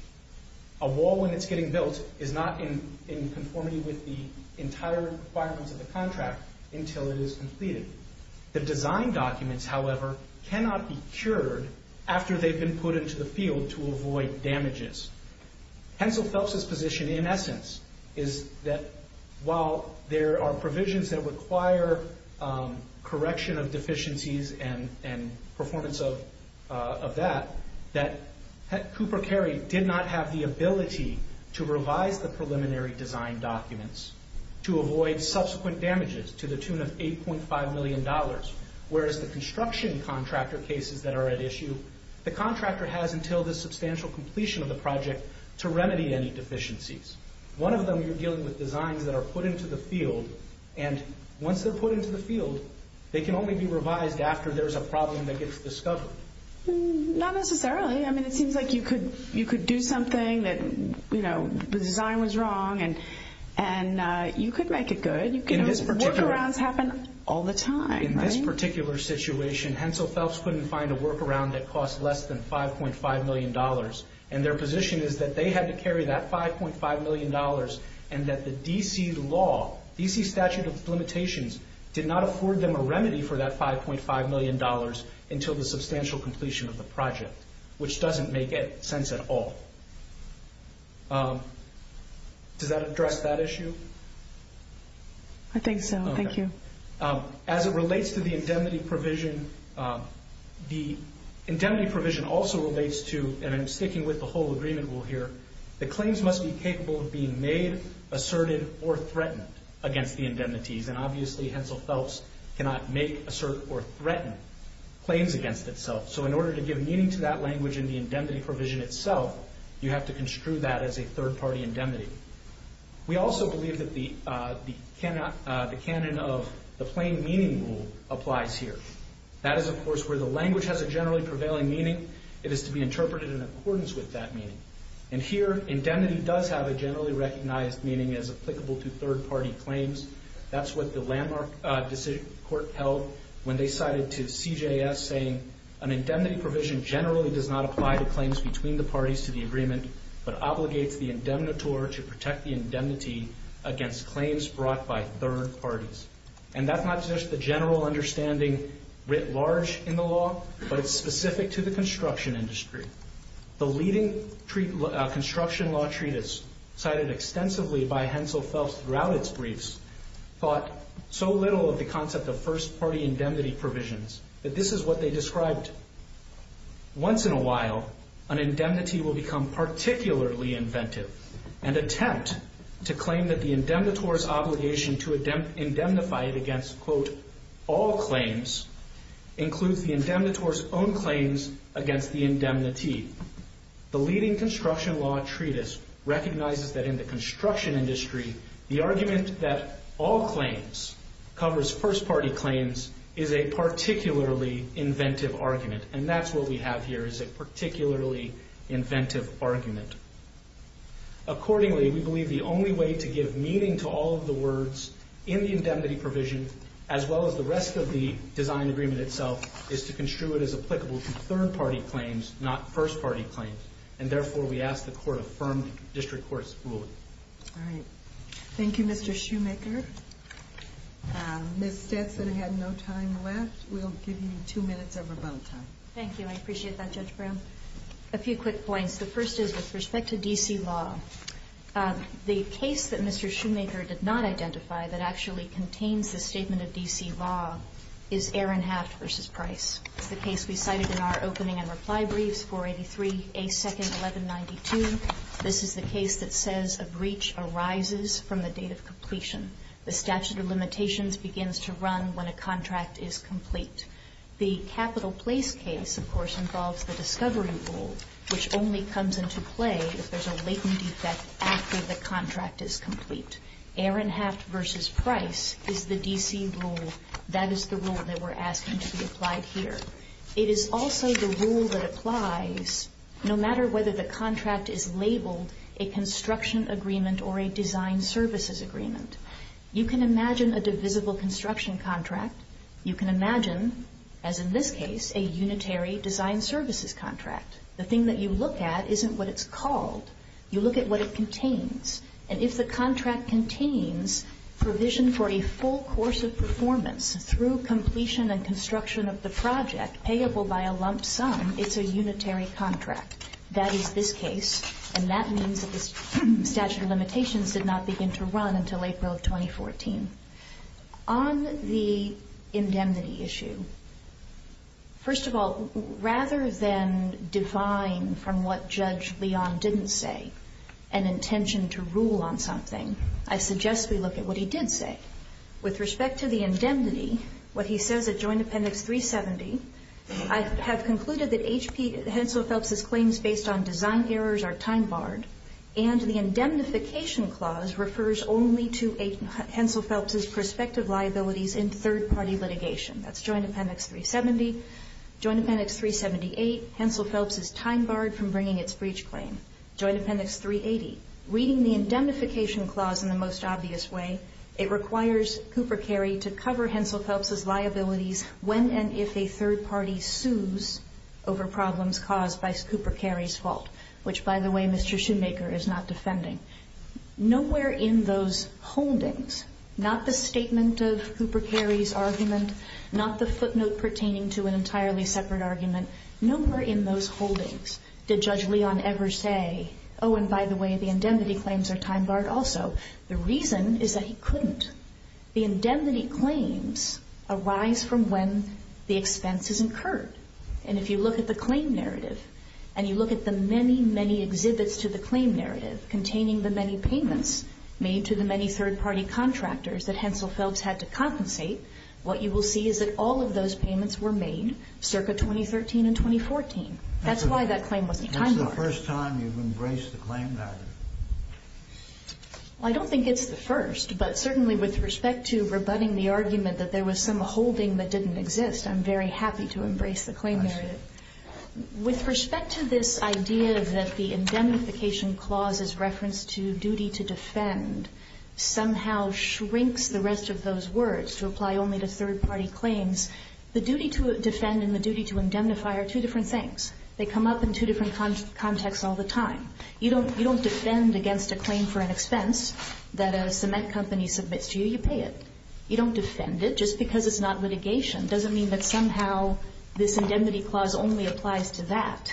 A wall, when it's getting built, is not in conformity with the entire requirements of the contract until it is completed. The design documents, however, cannot be cured after they've been put into the field to avoid damages. Hensel Phelps's position, in essence, is that while there are provisions that require correction of deficiencies and performance of that, that Cooper Carey did not have the ability to revise the preliminary design documents to avoid subsequent damages to the tune of $8.5 million, whereas the construction contractor cases that are at issue, the contractor has until the substantial completion of the project to remedy any deficiencies. One of them, you're dealing with designs that are put into the field, and once they're put into the field, they can only be revised after there's a problem that gets discovered. Not necessarily. I mean, it seems like you could do something that, you know, the design was wrong and you could make it good. Workarounds happen all the time. In this particular situation, Hensel Phelps couldn't find a workaround that cost less than $5.5 million, and their position is that they had to carry that $5.5 million and that the D.C. law, D.C. statute of limitations, did not afford them a remedy for that $5.5 million until the substantial completion of the project, which doesn't make sense at all. Does that address that issue? I think so. Thank you. As it relates to the indemnity provision, the indemnity provision also relates to, and I'm sticking with the whole agreement rule here, that claims must be capable of being made, asserted, or threatened against the indemnities, and obviously Hensel Phelps cannot make, assert, or threaten claims against itself. So in order to give meaning to that language in the indemnity provision itself, you have to construe that as a third-party indemnity. We also believe that the canon of the plain meaning rule applies here. That is, of course, where the language has a generally prevailing meaning. It is to be interpreted in accordance with that meaning. And here, indemnity does have a generally recognized meaning as applicable to third-party claims. That's what the landmark court held when they cited to CJS, saying an indemnity provision generally does not apply to claims between the parties to the agreement, but obligates the indemnitor to protect the indemnity against claims brought by third parties. And that's not just the general understanding writ large in the law, but it's specific to the construction industry. The leading construction law treatise, cited extensively by Hensel Phelps throughout its briefs, thought so little of the concept of first-party indemnity provisions that this is what they described. Once in a while, an indemnity will become particularly inventive and attempt to claim that the indemnitor's obligation to indemnify it against, quote, all claims includes the indemnitor's own claims against the indemnity. The leading construction law treatise recognizes that in the construction industry, the argument that all claims covers first-party claims is a particularly inventive argument, and that's what we have here is a particularly inventive argument. Accordingly, we believe the only way to give meaning to all of the words in the indemnity provision, as well as the rest of the design agreement itself, is to construe it as applicable to third-party claims, not first-party claims. And therefore, we ask the court affirm the district court's ruling. All right. Thank you, Mr. Shoemaker. Ms. Stetson had no time left. We'll give you two minutes of rebuttal time. Thank you. I appreciate that, Judge Brown. A few quick points. The first is with respect to D.C. law, the case that Mr. Shoemaker did not identify that actually contains the statement of D.C. law is Aaron Haft v. Price. It's the case we cited in our opening and reply briefs, 483A2-1192. This is the case that says a breach arises from the date of completion. The statute of limitations begins to run when a contract is complete. The capital place case, of course, involves the discovery rule, which only comes into play if there's a latent defect after the contract is complete. Aaron Haft v. Price is the D.C. rule. That is the rule that we're asking to be applied here. It is also the rule that applies no matter whether the contract is labeled a construction agreement or a design services agreement. You can imagine a divisible construction contract. You can imagine, as in this case, a unitary design services contract. The thing that you look at isn't what it's called. You look at what it contains, and if the contract contains provision for a full course of performance through completion and construction of the project, payable by a lump sum, it's a unitary contract. That is this case, and that means that the statute of limitations did not begin to run until April of 2014. On the indemnity issue, first of all, rather than define from what Judge Leon didn't say an intention to rule on something, I suggest we look at what he did say. With respect to the indemnity, what he says at Joint Appendix 370, I have concluded that Hensel Phelps' claims based on design errors are time-barred, and the indemnification clause refers only to Hensel Phelps' prospective liabilities in third-party litigation. That's Joint Appendix 370. Joint Appendix 378, Hensel Phelps is time-barred from bringing its breach claim. Joint Appendix 380, reading the indemnification clause in the most obvious way, it requires Cooper Carey to cover Hensel Phelps' liabilities when and if a third party sues over problems caused by Cooper Carey's fault, which, by the way, Mr. Shoemaker is not defending. Nowhere in those holdings, not the statement of Cooper Carey's argument, not the footnote pertaining to an entirely separate argument, nowhere in those holdings did Judge Leon ever say, oh, and by the way, the indemnity claims are time-barred also. The reason is that he couldn't. The indemnity claims arise from when the expense is incurred. And if you look at the claim narrative and you look at the many, many exhibits to the claim narrative containing the many payments made to the many third-party contractors that Hensel Phelps had to compensate, what you will see is that all of those payments were made circa 2013 and 2014. That's why that claim wasn't time-barred. This is the first time you've embraced the claim narrative? I don't think it's the first, but certainly with respect to rebutting the argument that there was some holding that didn't exist, I'm very happy to embrace the claim narrative. I see. With respect to this idea that the indemnification clause is referenced to duty to defend somehow shrinks the rest of those words to apply only to third-party claims, the duty to defend and the duty to indemnify are two different things. They come up in two different contexts all the time. You don't defend against a claim for an expense that a cement company submits to you. You pay it. You don't defend it just because it's not litigation. It doesn't mean that somehow this indemnity clause only applies to that.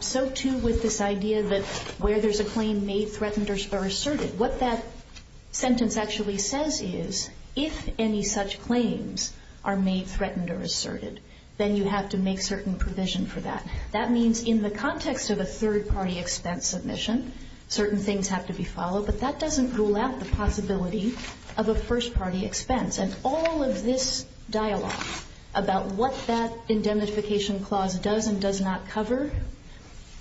So too with this idea that where there's a claim made threatened or asserted, what that sentence actually says is if any such claims are made threatened or asserted, then you have to make certain provision for that. That means in the context of a third-party expense submission, certain things have to be followed, but that doesn't rule out the possibility of a first-party expense. And all of this dialogue about what that indemnification clause does and does not cover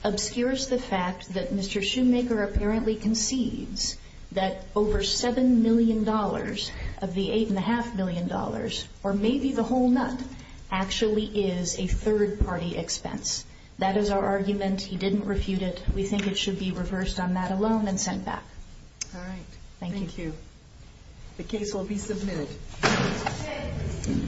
obscures the fact that Mr. Shoemaker apparently concedes that over $7 million of the $8.5 million, or maybe the whole nut, actually is a third-party expense. That is our argument. He didn't refute it. We think it should be reversed on that alone and sent back. All right. Thank you. Thank you. The case will be submitted.